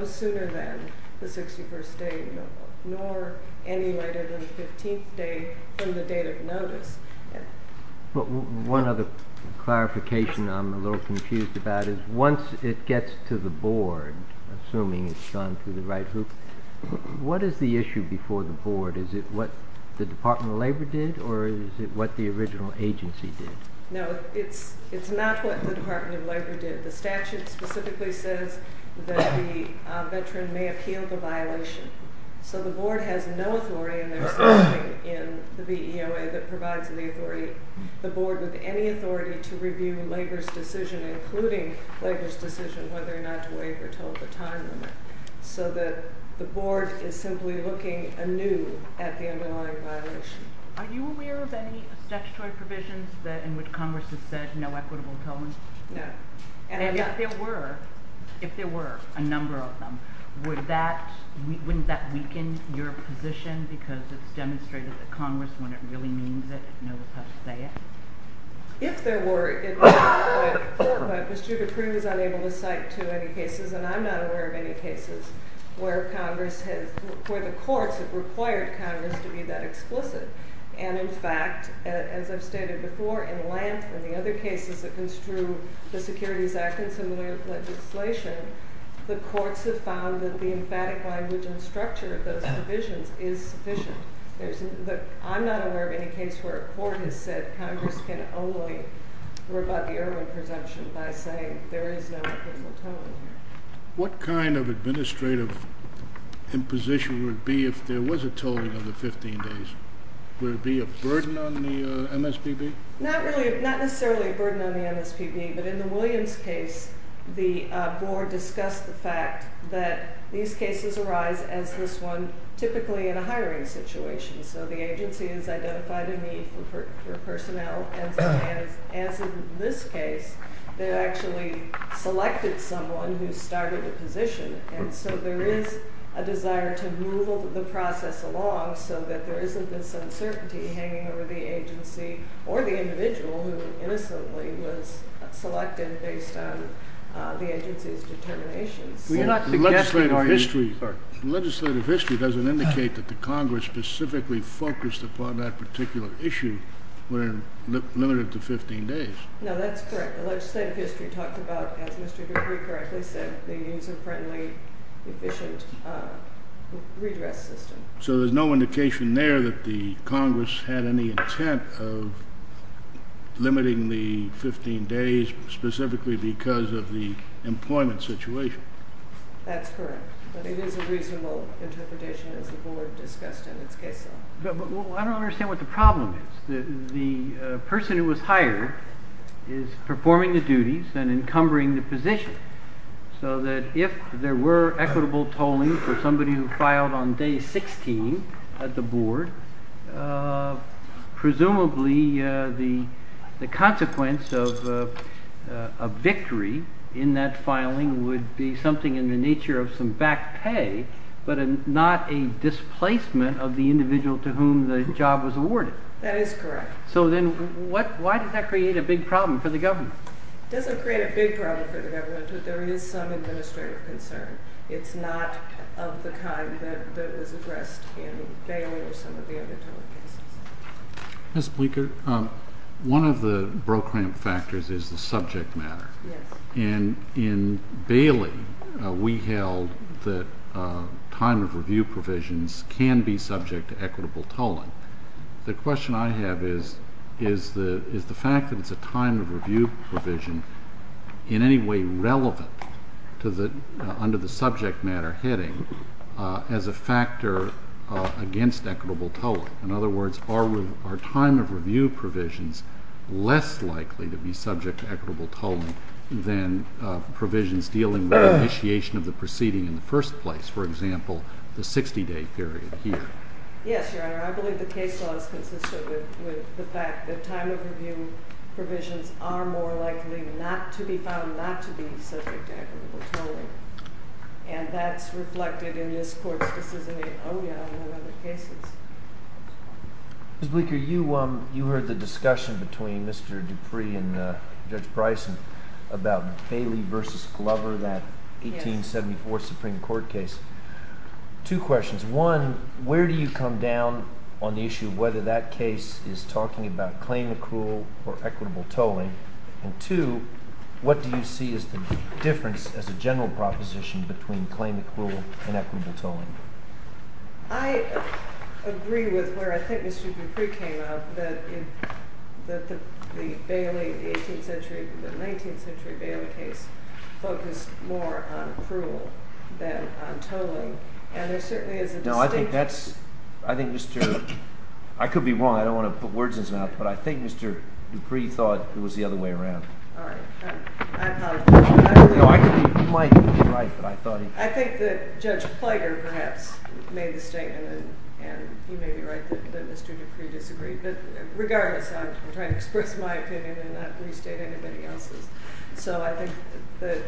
sooner than the 61st day nor any later than the 15th day from the date of notice. One other clarification I'm a little confused about is once it gets to the board, assuming it's gone through the right hoop, what is the issue before the board? Is it what the Department of Labor did or is it what the original agency did? No, it's not what the Department of Labor did. The statute specifically says that the veteran may appeal the violation. So the board has no authority and there's nothing in the VEOA that provides the authority, the board with any authority to review labor's decision including labor's decision whether or not to waive or toll the time limit. So that the board is simply looking anew at the underlying violation. Are you aware of any statutory provisions in which Congress has said no equitable tolling? No. And if there were, if there were a number of them, wouldn't that weaken your position because it's demonstrated that Congress, when it really means it, knows how to say it? If there were, it would, but Mr. Dupree was unable to cite to any cases and I'm not aware of any cases where Congress has, where the courts have required Congress to be that explicit. And in fact, as I've stated before, in Lant and the other cases that construe the Securities Act and similar legislation, the courts have found that the emphatic language and structure of those provisions is sufficient. I'm not aware of any case where a court has said Congress can only rebut the Irwin presumption by saying there is no equitable tolling. What kind of administrative imposition would it be if there was a tolling of the 15 days? Would it be a burden on the MSPB? Not really, not necessarily a burden on the MSPB, but in the Williams case, the board discussed the fact that these cases arise as this one typically in a hiring situation. So the agency has identified a need for personnel and as in this case, they actually selected someone who started the position. And so there is a desire to move the process along so that there isn't this uncertainty hanging over the agency or the individual who innocently was selected based on the agency's determinations. Legislative history doesn't indicate that the Congress specifically focused upon that particular issue when limited to 15 days. No, that's correct. The legislative history talked about, as Mr. Dupree correctly said, the user-friendly, efficient redress system. So there's no indication there that the Congress had any intent of limiting the 15 days specifically because of the employment situation. That's correct. But it is a reasonable interpretation as the board discussed in its case law. I don't understand what the problem is. The person who was hired is performing the duties and encumbering the position, so that if there were equitable tolling for somebody who filed on day 16 at the board, presumably the consequence of a victory in that filing would be something in the nature of some back pay, but not a displacement of the individual to whom the job was awarded. That is correct. So then why does that create a big problem for the government? It doesn't create a big problem for the government, but there is some administrative concern. It's not of the kind that was addressed in Bailey or some of the other tolling cases. Ms. Bleeker, one of the brokerage factors is the subject matter. Yes. In Bailey, we held that time of review provisions can be subject to equitable tolling. The question I have is the fact that it's a time of review provision in any way relevant under the subject matter heading as a factor against equitable tolling. In other words, are time of review provisions less likely to be subject to equitable tolling than provisions dealing with initiation of the proceeding in the first place? For example, the 60-day period here. Yes, Your Honor. I believe the case law is consistent with the fact that time of review provisions are more likely not to be found not to be subject to equitable tolling. And that's reflected in this Court's decision in other cases. Ms. Bleeker, you heard the discussion between Mr. Dupree and Judge Bryson about Bailey v. Glover, that 1874 Supreme Court case. Two questions. One, where do you come down on the issue of whether that case is talking about claim accrual or equitable tolling? And two, what do you see as the difference, as a general proposition, between claim accrual and equitable tolling? I agree with where I think Mr. Dupree came up, that the 19th century Bailey case focused more on accrual than on tolling. And there certainly is a distinction. I could be wrong. I don't want to put words in his mouth. But I think Mr. Dupree thought it was the other way around. All right. I apologize. No, I could be right. But I thought he was wrong. I think that Judge Plegar, perhaps, made the statement, and you may be right that Mr. Dupree disagreed. But regardless, I'm trying to express my opinion and not restate anybody else's. So I think the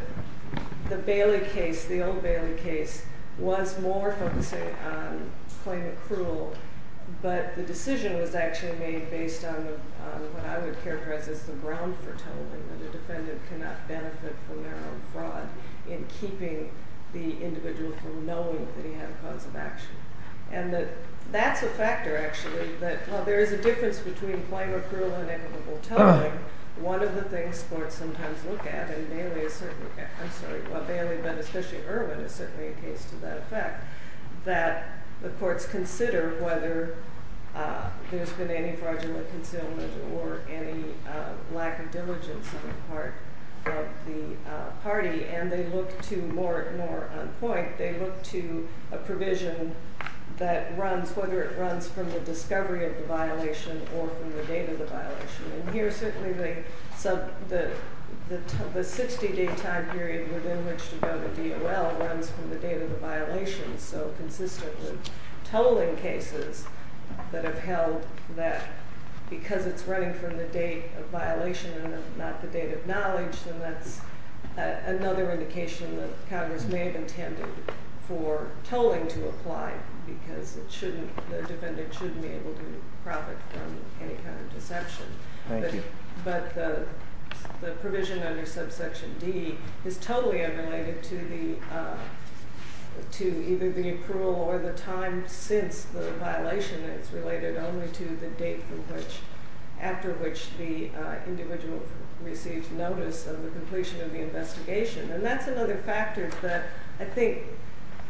Bailey case, the old Bailey case, was more focusing on claim accrual. But the decision was actually made based on what I would characterize as the ground for tolling, that a defendant cannot benefit from their own fraud in keeping the individual from knowing that he had a cause of action. And that's a factor, actually, that while there is a difference between claim accrual and equitable tolling, one of the things courts sometimes look at, and Bailey has certainly, I'm sorry, well, Bailey, but especially Irwin, is certainly a case to that effect, that the courts consider whether there's been any fraudulent concealment or any lack of diligence on the part of the party. And they look to, more on point, they look to a provision that runs, whether it runs from the discovery of the violation or from the date of the violation. And here, certainly, the 60-day time period within which to go to DOL runs from the date of the violation. So consistent with tolling cases that have held that because it's running from the date of violation and not the date of knowledge, then that's another indication that Congress may have intended for tolling to apply, because the defendant shouldn't be able to profit from any kind of deception. Thank you. But the provision under subsection D is totally unrelated to either the approval or the time since the violation. It's related only to the date after which the individual received notice of the completion of the investigation. And that's another factor that I think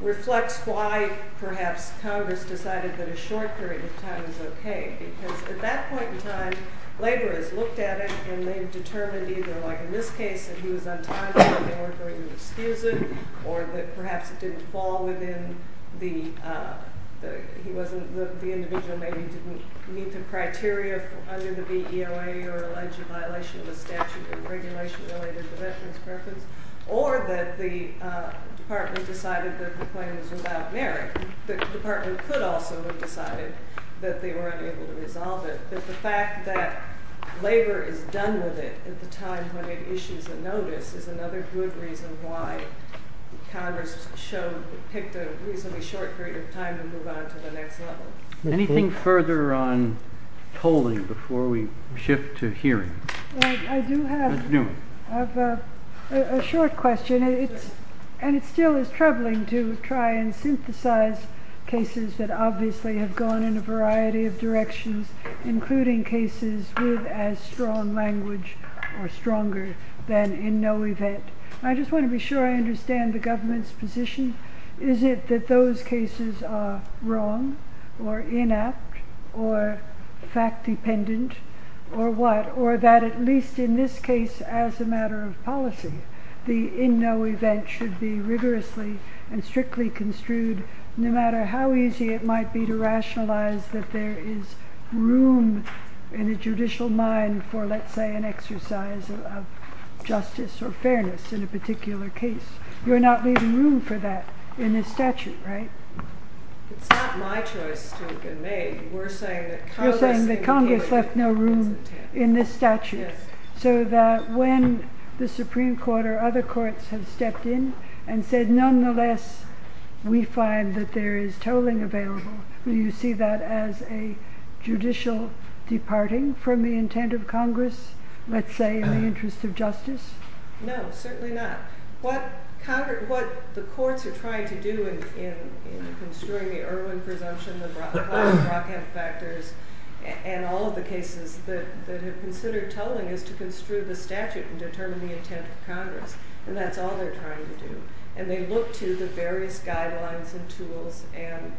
reflects why, perhaps, Congress decided that a short period of time is okay, because at that point in time, labor has looked at it, and they've determined either, like in this case, that he was on time and they weren't going to excuse it, or that perhaps it didn't fall within the, he wasn't, the individual maybe didn't meet the criteria under the BEOA or alleged violation of the statute and regulation related to veterans' preference, or that the department decided that the claim was without merit. The department could also have decided that they were unable to resolve it. But the fact that labor is done with it at the time when it issues a notice is another good reason why Congress showed, picked a reasonably short period of time to move on to the next level. Anything further on tolling before we shift to hearing? I do have a short question. It's, and it still is troubling to try and synthesize cases that obviously have gone in a variety of directions, including cases with as strong language or stronger than in no event. I just want to be sure I understand the government's position. Is it that those cases are wrong, or inept, or fact-dependent, or what? Or that at least in this case, as a matter of policy, the in no event should be rigorously and strictly construed, no matter how easy it might be to rationalize that there is room in the judicial mind for, let's say, an exercise of justice or fairness in a particular case. You're not leaving room for that in this statute, right? It's not my choice to have been made. We're saying that Congress left no room in this statute. So that when the Supreme Court or other courts have stepped in and said, nonetheless, we find that there is tolling available, do you see that as a judicial departing from the intent of Congress, let's say, in the interest of justice? No, certainly not. What the courts are trying to do in construing the Irwin presumption, the Brockham factors, and all of the cases that have considered tolling is to construe the statute and determine the intent of Congress. And that's all they're trying to do. And they look to the various guidelines and tools and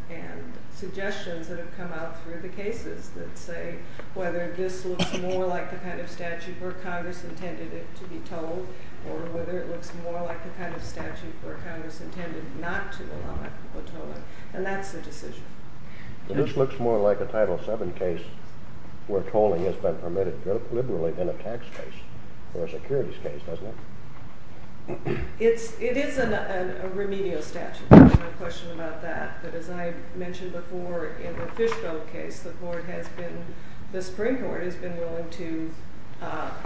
suggestions that have come out through the cases that say whether this looks more like the kind of statute where Congress intended it to be tolled or whether it looks more like the kind of statute where Congress intended not to allow tolling. And that's the decision. This looks more like a Title VII case where tolling has been permitted liberally than a tax case or a securities case, doesn't it? It is a remedial statute. There's no question about that. But as I mentioned before, in the Fishville case, the Supreme Court has been willing to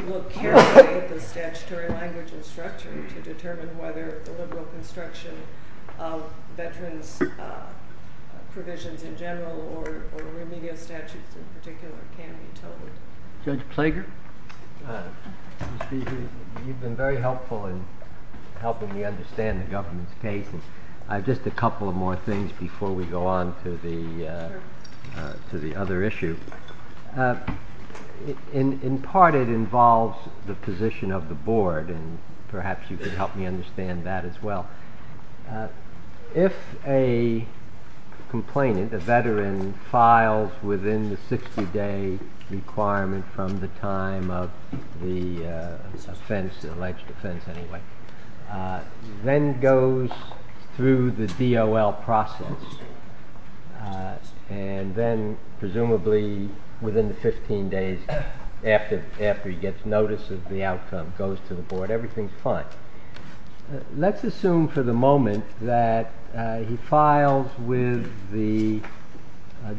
look carefully at the statutory language and structure to determine whether the liberal construction of veterans' provisions in general or remedial statutes in particular can be tolled. Judge Plager? Mr. Speaker, you've been very helpful in helping me understand the government's case. Just a couple of more things before we go on to the other issue. In part, it involves the position of the board, and perhaps you could help me understand that as well. If a complainant, a veteran, files within the 60-day requirement from the time of the offense, the alleged offense anyway, then goes through the DOL process and then presumably within the 15 days after he gets notice of the outcome, goes to the board, everything's fine. Let's assume for the moment that he files with the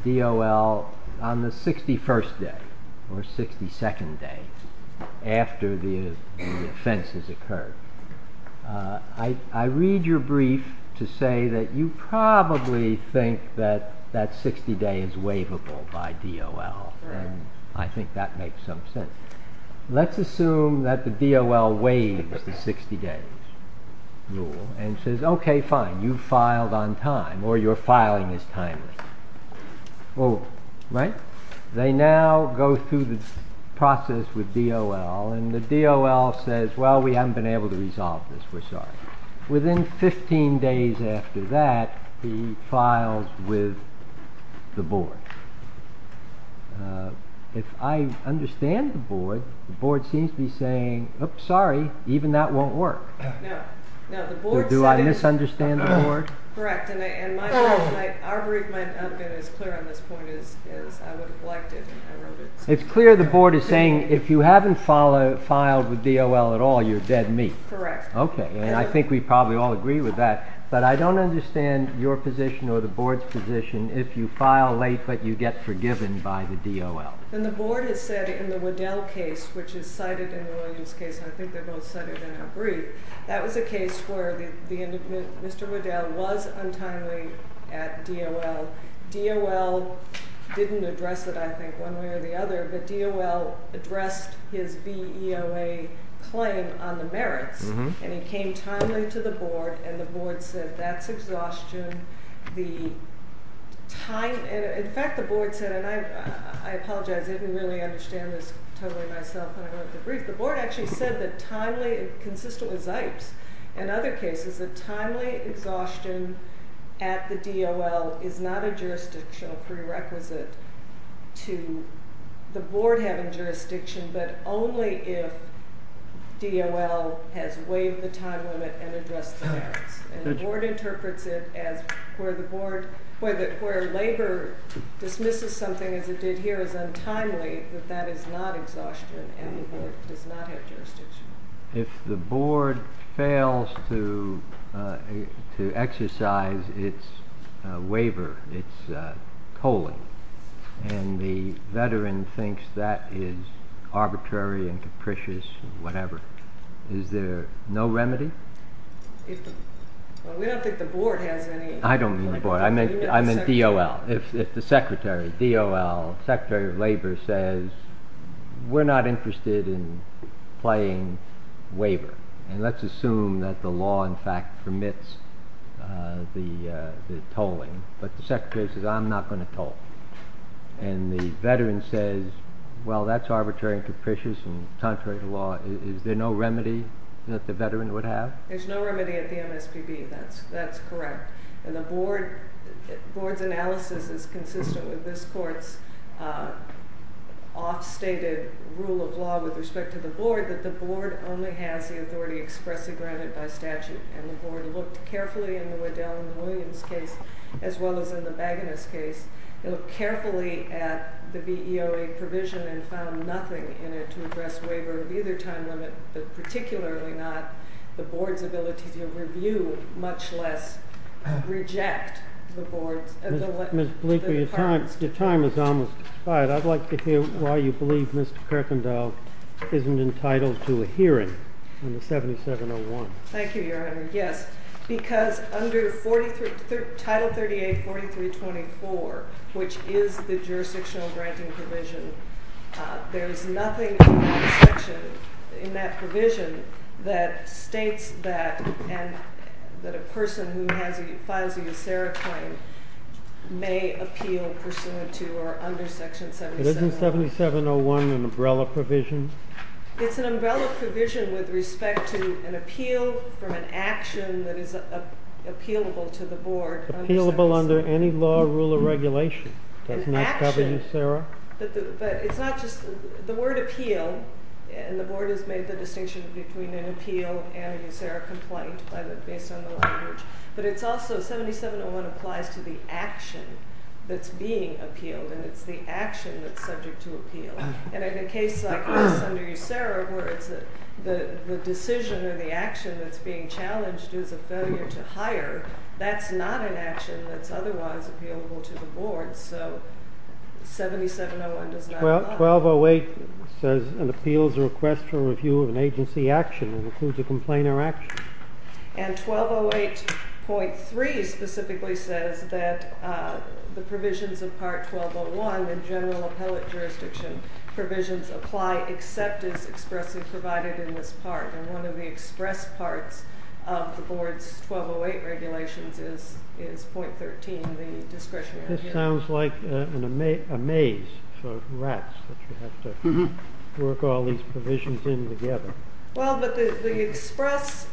DOL on the 61st day or 62nd day after the offense has occurred. I read your brief to say that you probably think that that 60-day is waivable by DOL, and I think that makes some sense. Let's assume that the DOL waives the 60-day rule and says, OK, fine, you filed on time, or your filing is timely. They now go through the process with DOL, and the DOL says, well, we haven't been able to resolve this, we're sorry. Within 15 days after that, he files with the board. If I understand the board, the board seems to be saying, oops, sorry, even that won't work. Do I misunderstand the board? Correct, and our brief might not have been as clear on this point as I would have liked it if I wrote it. It's clear the board is saying, if you haven't filed with DOL at all, you're dead meat. Correct. OK, and I think we probably all agree with that, but I don't understand your position or the board's position, if you file late but you get forgiven by the DOL. And the board has said in the Waddell case, which is cited in the Williams case, and I think they both cited in our brief, that was a case where Mr. Waddell was untimely at DOL. DOL didn't address it, I think, one way or the other, but DOL addressed his VEOA claim on the merits, and he came timely to the board, and the board said, that's exhaustion. In fact, the board said, and I apologize, I didn't really understand this totally myself when I wrote the brief, the board actually said that timely, consistent with Zipes and other cases, that timely exhaustion at the DOL is not a jurisdictional prerequisite to the board having jurisdiction, but only if DOL has waived the time limit and addressed the merits. And the board interprets it as where the board, where labor dismisses something, as it did here, is untimely, that that is not exhaustion, and the board does not have jurisdiction. If the board fails to exercise its waiver, its coaling, and the veteran thinks that is arbitrary and capricious, whatever, is there no remedy? We don't think the board has any. I don't mean the board, I mean DOL. If the secretary, DOL, secretary of labor says, we're not interested in playing waiver, and let's assume that the law in fact permits the coaling, but the secretary says, I'm not going to coal. And the veteran says, well, that's arbitrary and capricious, and contrary to law, is there no remedy that the veteran would have? There's no remedy at the MSPB, that's correct. And the board's analysis is consistent with this court's off-stated rule of law with respect to the board, that the board only has the authority expressly granted by statute. And the board looked carefully in the Waddell and Williams case, as well as in the Bagonist case, they looked carefully at the VEOA provision and found nothing in it to address waiver of either time limit, particularly not the board's ability to review, much less reject the board's. Ms. Bleeker, your time is almost expired. I'd like to hear why you believe Mr. Kerkendall isn't entitled to a hearing on the 7701. Thank you, Your Honor. Yes, because under Title 38, 4324, which is the jurisdictional granting provision, there is nothing in that section, in that provision, that states that a person who files a USERRA claim may appeal pursuant to or under Section 7701. Isn't 7701 an umbrella provision? It's an umbrella provision with respect to an appeal from an action that is appealable to the board. Appealable under any law, rule, or regulation. That's not covered in USERRA? But it's not just, the word appeal, and the board has made the distinction between an appeal and a USERRA complaint based on the language, but it's also, 7701 applies to the action that's being appealed, and it's the action that's subject to appeal. And in a case like this under USERRA, where it's the decision or the action that's being challenged is a failure to hire, that's not an action that's otherwise appealable to the board, so 7701 does not apply. 1208 says an appeal is a request for review of an agency action and includes a complaint or action. And 1208.3 specifically says that the provisions of Part 1201 in general appellate jurisdiction provisions apply except as expressly provided in this part. And one of the express parts of the board's 1208 regulations is .13, the discretionary hearing. This sounds like a maze for rats that you have to work all these provisions in together. Well, but the express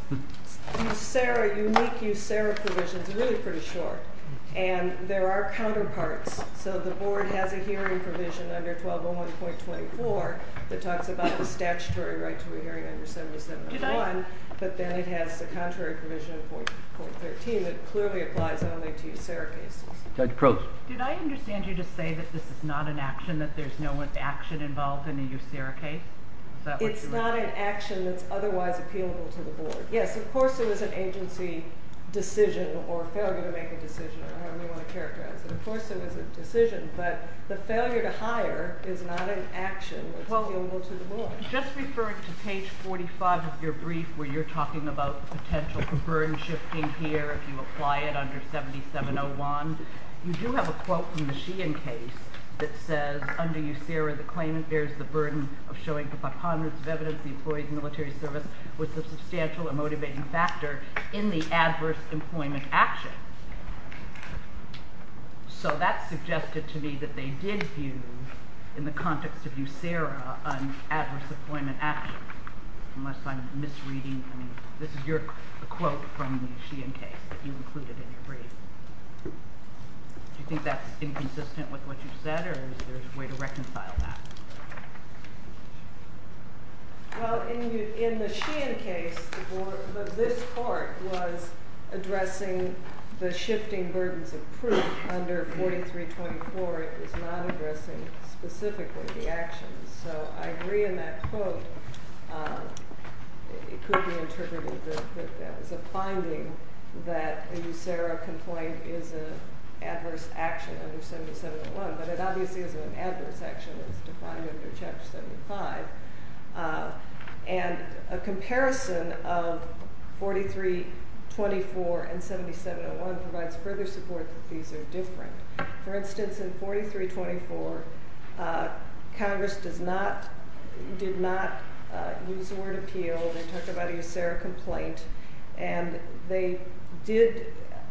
USERRA, unique USERRA provisions are really pretty short. And there are counterparts, so the board has a hearing provision under 1201.24 that talks about the statutory right to a hearing under 7701, but then it has the contrary provision in .13 that clearly applies only to USERRA cases. Judge Croce. Did I understand you to say that this is not an action, that there's no action involved in a USERRA case? It's not an action that's otherwise appealable to the board. Yes, of course there is an agency decision or failure to make a decision, I don't really want to characterize it. Of course there is a decision, but the failure to hire is not an action that's appealable to the board. Just referring to page 45 of your brief where you're talking about potential burden shifting here if you apply it under 7701, you do have a quote from the Sheehan case that says under USERRA the claimant bears the burden of showing the preponderance of evidence the employee's military service was a substantial and motivating factor in the adverse employment action. So that suggested to me that they did view, in the context of USERRA, an adverse employment action. Unless I'm misreading, I mean, this is your quote from the Sheehan case that you included in your brief. Do you think that's inconsistent with what you said or is there a way to reconcile that? Well, in the Sheehan case, this court was addressing the shifting burdens of proof under 4324. It was not addressing specifically the actions. So I agree in that quote. It could be interpreted as a finding that a USERRA complaint is an adverse action under 7701, but it obviously is an adverse action as defined under Chapter 75. And a comparison of 4324 and 7701 provides further support that these are different. For instance, in 4324, Congress did not use the word appeal. They talked about a USERRA complaint. And they did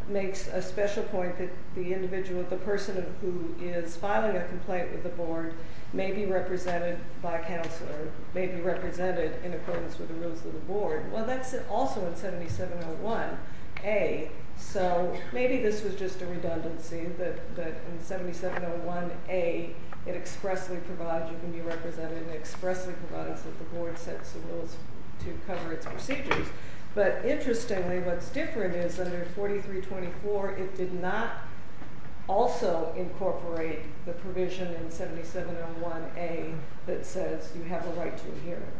make a special point that the individual, the person who is filing a complaint with the board, may be represented by a counselor, may be represented in accordance with the rules of the board. Well, that's also in 7701A. So maybe this was just a redundancy that in 7701A it expressly provides you can be represented and it expressly provides that the board sets the rules to cover its procedures. But interestingly, what's different is under 4324, it did not also incorporate the provision in 7701A that says you have the right to a hearing.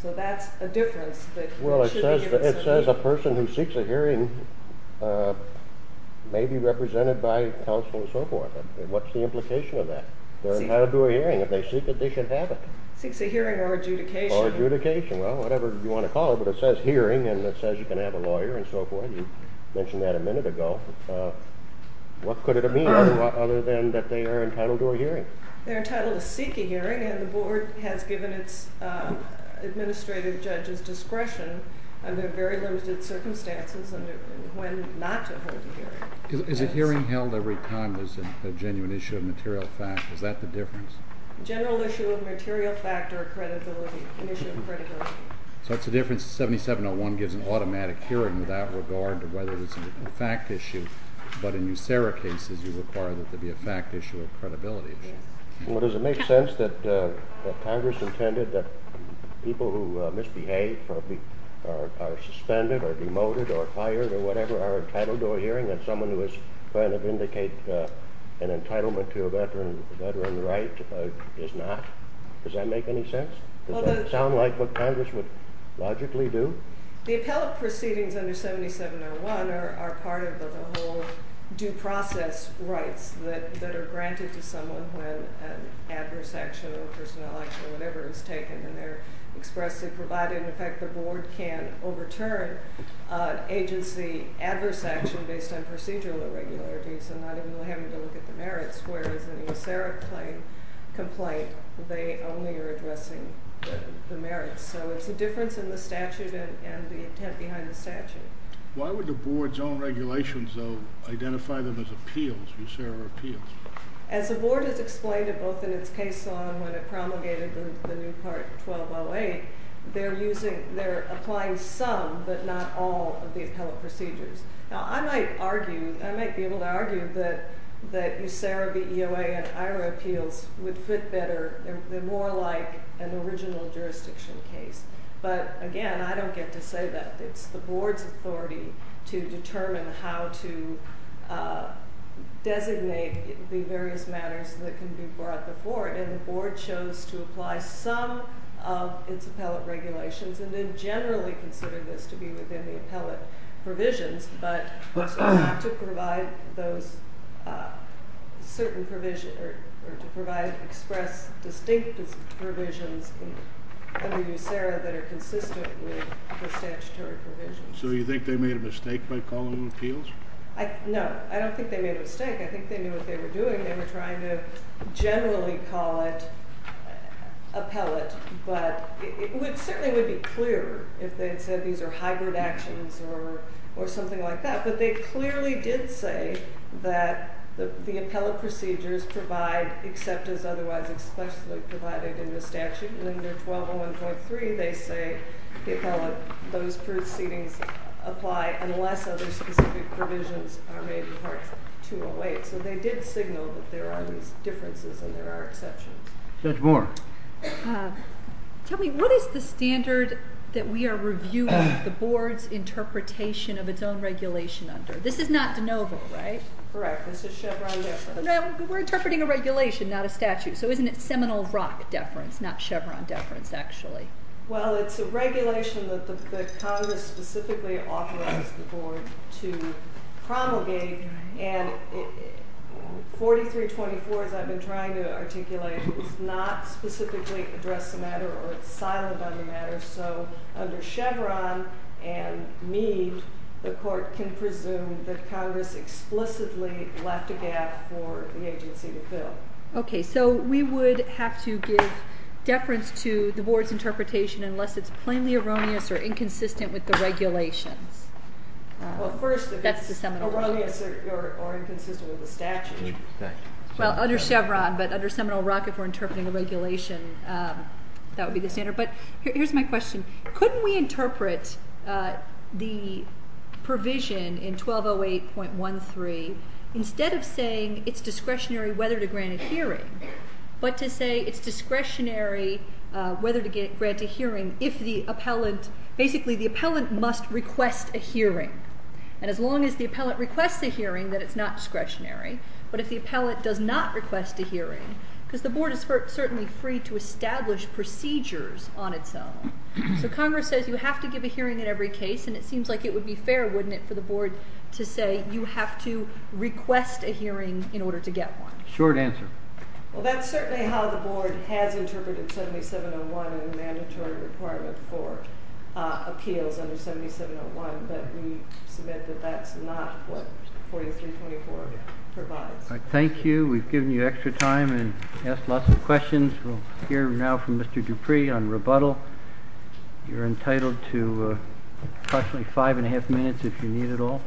So that's a difference that should be given some weight. Well, it says a person who seeks a hearing may be represented by counsel and so forth. What's the implication of that? They're allowed to do a hearing. If they seek it, they should have it. Seeks a hearing or adjudication. Or adjudication. Well, whatever you want to call it. But it says hearing, and it says you can have a lawyer and so forth. You mentioned that a minute ago. What could it mean other than that they are entitled to a hearing? They're entitled to seek a hearing, and the board has given its administrative judges discretion under very limited circumstances under when not to hold a hearing. Is a hearing held every time there's a genuine issue of material fact? Is that the difference? General issue of material fact or credibility, an issue of credibility. So it's a difference. 7701 gives an automatic hearing without regard to whether it's a fact issue. But in USERRA cases, you require that there be a fact issue or credibility issue. Well, does it make sense that Congress intended that people who misbehave or are suspended or demoted or fired or whatever are entitled to a hearing? And someone who is trying to vindicate an entitlement to a veteran right is not? Does that make any sense? Does that sound like what Congress would logically do? The appellate proceedings under 7701 are part of the whole due process rights that are granted to someone when an adverse action or a personnel action or whatever is taken, and they're expressly provided. In fact, the board can overturn agency adverse action based on procedural irregularities and not even having to look at the merits. Whereas in the USERRA complaint, they only are addressing the merits. So it's a difference in the statute and the intent behind the statute. Why would the board's own regulations, though, identify them as appeals, USERRA appeals? As the board has explained it both in its case law and when it promulgated the new Part 1208, they're applying some but not all of the appellate procedures. Now, I might be able to argue that USERRA v. EOA and IRA appeals would fit better. They're more like an original jurisdiction case. But, again, I don't get to say that. It's the board's authority to determine how to designate the various matters that can be brought before it, and the board chose to apply some of its appellate regulations and then generally consider this to be within the appellate provisions, but to provide those certain provisions or to provide express distinct provisions under USERRA that are consistent with the statutory provisions. So you think they made a mistake by calling them appeals? No, I don't think they made a mistake. I think they knew what they were doing. They were trying to generally call it appellate, but it certainly would be clearer if they had said these are hybrid actions or something like that. But they clearly did say that the appellate procedures provide except as otherwise expressly provided in the statute. And under 1201.3, they say the appellate, those proceedings apply unless other specific provisions are made in Part 208. So they did signal that there are these differences and there are exceptions. Judge Moore. Tell me, what is the standard that we are reviewing the board's interpretation of its own regulation under? This is not de novo, right? Correct. This is Chevron deference. We're interpreting a regulation, not a statute. So isn't it Seminole Rock deference, not Chevron deference actually? Well, it's a regulation that the Congress specifically authorized the board to promulgate and 4324, as I've been trying to articulate, does not specifically address the matter or is silent on the matter, so under Chevron and Meade, the court can presume that Congress explicitly left a gap for the agency to fill. Okay, so we would have to give deference to the board's interpretation unless it's plainly erroneous or inconsistent with the regulations. That's the Seminole Rock. Erroneous or inconsistent with the statute. Well, under Chevron, but under Seminole Rock, if we're interpreting a regulation, that would be the standard. But here's my question. Couldn't we interpret the provision in 1208.13 instead of saying it's discretionary whether to grant a hearing, but to say it's discretionary whether to grant a hearing if the appellant, basically the appellant must request a hearing, and as long as the appellant requests a hearing, then it's not discretionary, but if the appellant does not request a hearing, because the board is certainly free to establish procedures on its own, so Congress says you have to give a hearing in every case, and it seems like it would be fair, wouldn't it, for the board to say you have to request a hearing in order to get one? Short answer. Well, that's certainly how the board has interpreted 7701 and the mandatory requirement for appeals under 7701, but we submit that that's not what 4324 provides. Thank you. We've given you extra time and asked lots of questions. We'll hear now from Mr. Dupree on rebuttal. You're entitled to approximately five and a half minutes if you need it all.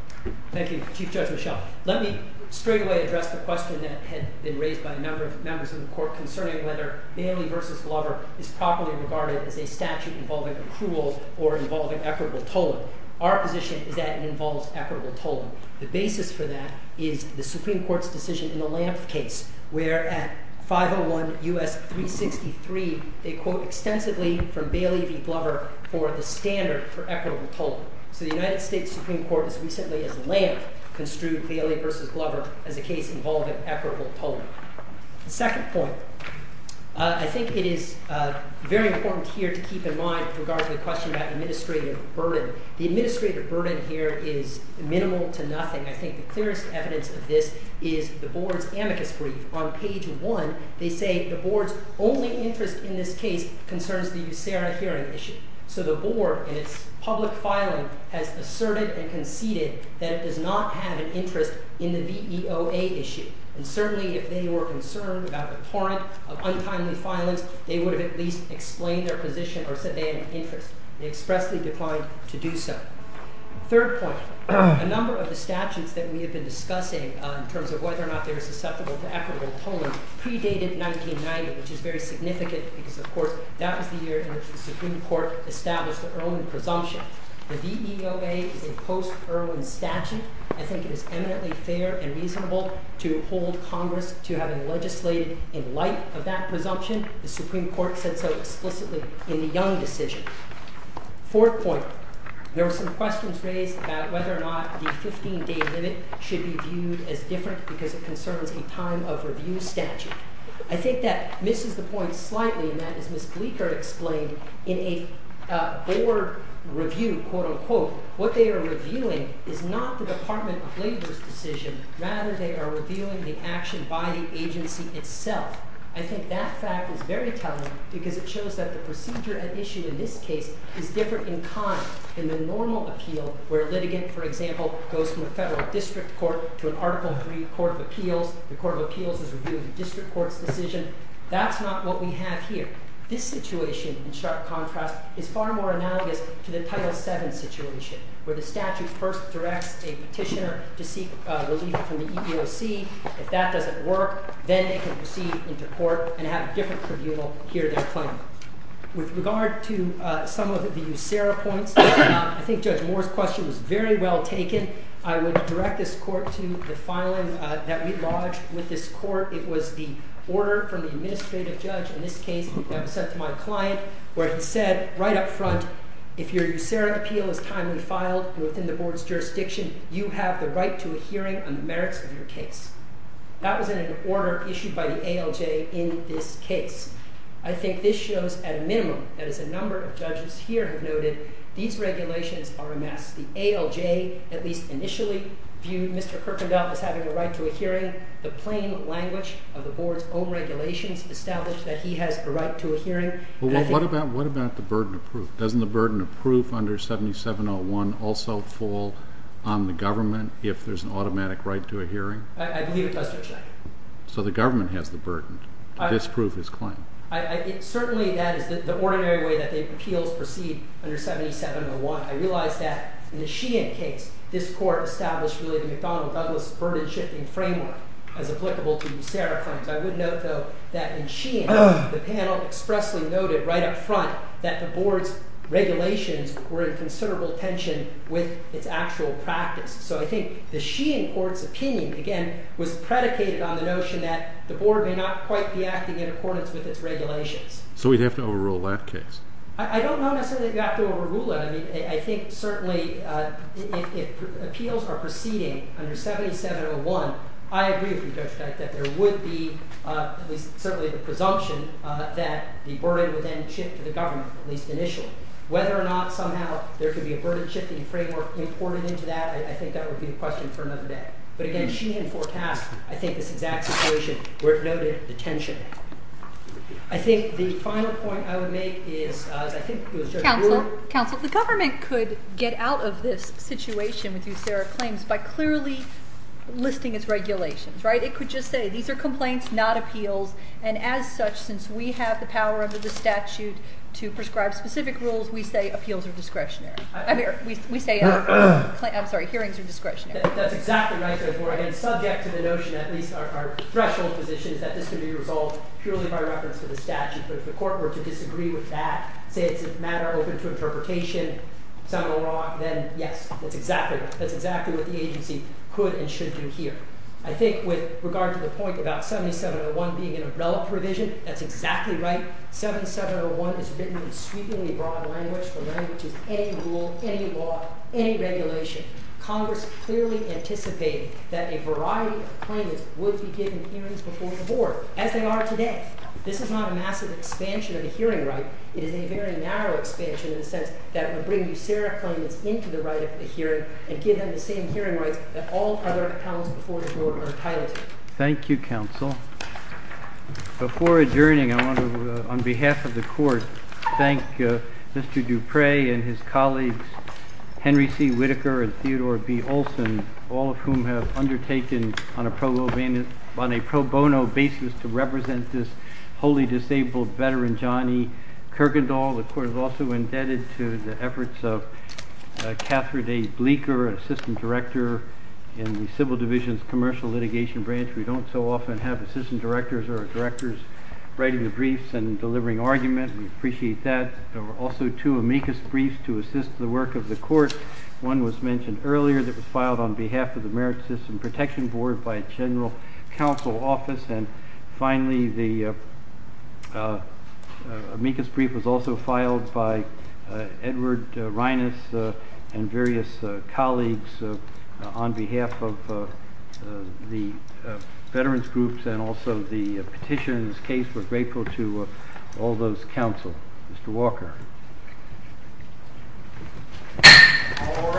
Thank you, Chief Judge Michel. Let me straightaway address the question that had been raised by a number of members of the court concerning whether Bailey v. Glover is properly regarded as a statute involving accrual or involving equitable tolling. Our position is that it involves equitable tolling. The basis for that is the Supreme Court's decision in the Lampf case where at 501 U.S. 363, they quote extensively from Bailey v. Glover for the standard for equitable tolling. So the United States Supreme Court has recently, as Lampf, construed Bailey v. Glover as a case involving equitable tolling. Second point, I think it is very important here to keep in mind with regard to the question about administrative burden. The administrative burden here is minimal to nothing. I think the clearest evidence of this is the Board's amicus brief. On page 1, they say the Board's only interest in this case concerns the USERRA hearing issue. So the Board in its public filing has asserted and conceded that it does not have an interest in the VEOA issue. And certainly if they were concerned about the torrent of untimely filings, they would have at least explained their position or said they had an interest. They expressly declined to do so. Third point, a number of the statutes that we have been discussing in terms of whether or not they are susceptible to equitable tolling predated 1990, which is very significant because, of course, that was the year in which the Supreme Court established the Erwin presumption. The VEOA is a post-Erwin statute. I think it is eminently fair and reasonable to hold Congress to having legislated in light of that presumption. The Supreme Court said so explicitly in the Young decision. Fourth point, there were some questions raised about whether or not the 15-day limit should be viewed as different because it concerns a time-of-review statute. I think that misses the point slightly in that, as Ms. Bleeker explained, in a board review, quote-unquote, what they are reviewing is not the Department of Labor's decision. Rather, they are reviewing the action by the agency itself. I think that fact is very telling because it shows that the procedure at issue in this case is different in kind than the normal appeal where a litigant, for example, goes from a federal district court to an Article III court of appeals. The court of appeals is reviewing the district court's decision. That's not what we have here. This situation, in sharp contrast, is far more analogous to the Title VII situation where the statute first directs a petitioner to seek relief from the EEOC. If that doesn't work, then they can proceed into court and have a different tribunal hear their claim. With regard to some of the USERRA points, I think Judge Moore's question was very well taken. I would direct this court to the filing that we lodged with this court. It was the order from the administrative judge in this case that was sent to my client where he said right up front, if your USERRA appeal is timely filed within the board's jurisdiction, you have the right to a hearing on the merits of your case. That was in an order issued by the ALJ in this case. I think this shows at a minimum that, as a number of judges here have noted, these regulations are a mess. The ALJ, at least initially, viewed Mr. Kirkendall as having a right to a hearing. The plain language of the board's own regulations established that he has a right to a hearing. What about the burden of proof? Doesn't the burden of proof under 7701 also fall on the government if there's an automatic right to a hearing? I believe it does, Judge. So the government has the burden to disprove his claim. Certainly, that is the ordinary way that appeals proceed under 7701. I realize that in the Sheehan case, this court established the McDonnell-Douglas burden-shifting framework as applicable to USERRA claims. I would note, though, that in Sheehan, the panel expressly noted right up front that the board's regulations were in considerable tension with its actual practice. So I think the Sheehan court's opinion, again, was predicated on the notion that the board may not quite be acting in accordance with its regulations. So we'd have to overrule that case? I don't know necessarily if you have to overrule it. I think, certainly, if appeals are proceeding under 7701, I agree with you, Judge, that there would be, at least certainly the presumption, that the burden would then shift to the government, at least initially. Whether or not somehow there could be a burden-shifting framework imported into that, I think that would be a question for another day. But again, Sheehan forecast, I think, this exact situation where it noted the tension. I think the final point I would make is, as I think it was Judge Brewer... Counsel, the government could get out of this situation by clearly listing its regulations. It could just say, these are complaints, not appeals. And as such, since we have the power under the statute to prescribe specific rules, we say appeals are discretionary. I'm sorry, hearings are discretionary. That's exactly right, Judge Brewer. And subject to the notion, at least our threshold position, is that this could be resolved purely by reference to the statute. But if the court were to disagree with that, say it's a matter open to interpretation, then yes, that's exactly what the agency could and should do here. I think with regard to the point about 7701 being an umbrella provision, that's exactly right. 7701 is written in sweepingly broad language, the language of any rule, any law, any regulation. Congress clearly anticipated that a variety of claimants would be given hearings before the board, as they are today. This is not a massive expansion of the hearing right. It is a very narrow expansion in the sense that it would bring new Sarah claimants into the right of the hearing and give them the same hearing rights that all other accounts before the board are entitled to. Thank you, counsel. Before adjourning, I want to, on behalf of the court, thank Mr. Dupre and his colleagues, Henry C. Whitaker and Theodore B. Olson, all of whom have undertaken on a pro bono basis to represent this wholly disabled veteran, Johnny Kurgendahl. The court is also indebted to the efforts of Catherine A. Bleeker, an assistant director in the civil division's commercial litigation branch. We don't so often have assistant directors or directors writing the briefs and delivering arguments. We appreciate that. There were also two amicus briefs to assist the work of the court. One was mentioned earlier that was filed on behalf of the Merit System Protection Board by a general counsel office. Finally, the amicus brief was also filed by Edward Reines and various colleagues on behalf of the veterans' groups and also the petitioners' case. We're grateful to all those counsels. Mr. Walker. All rise.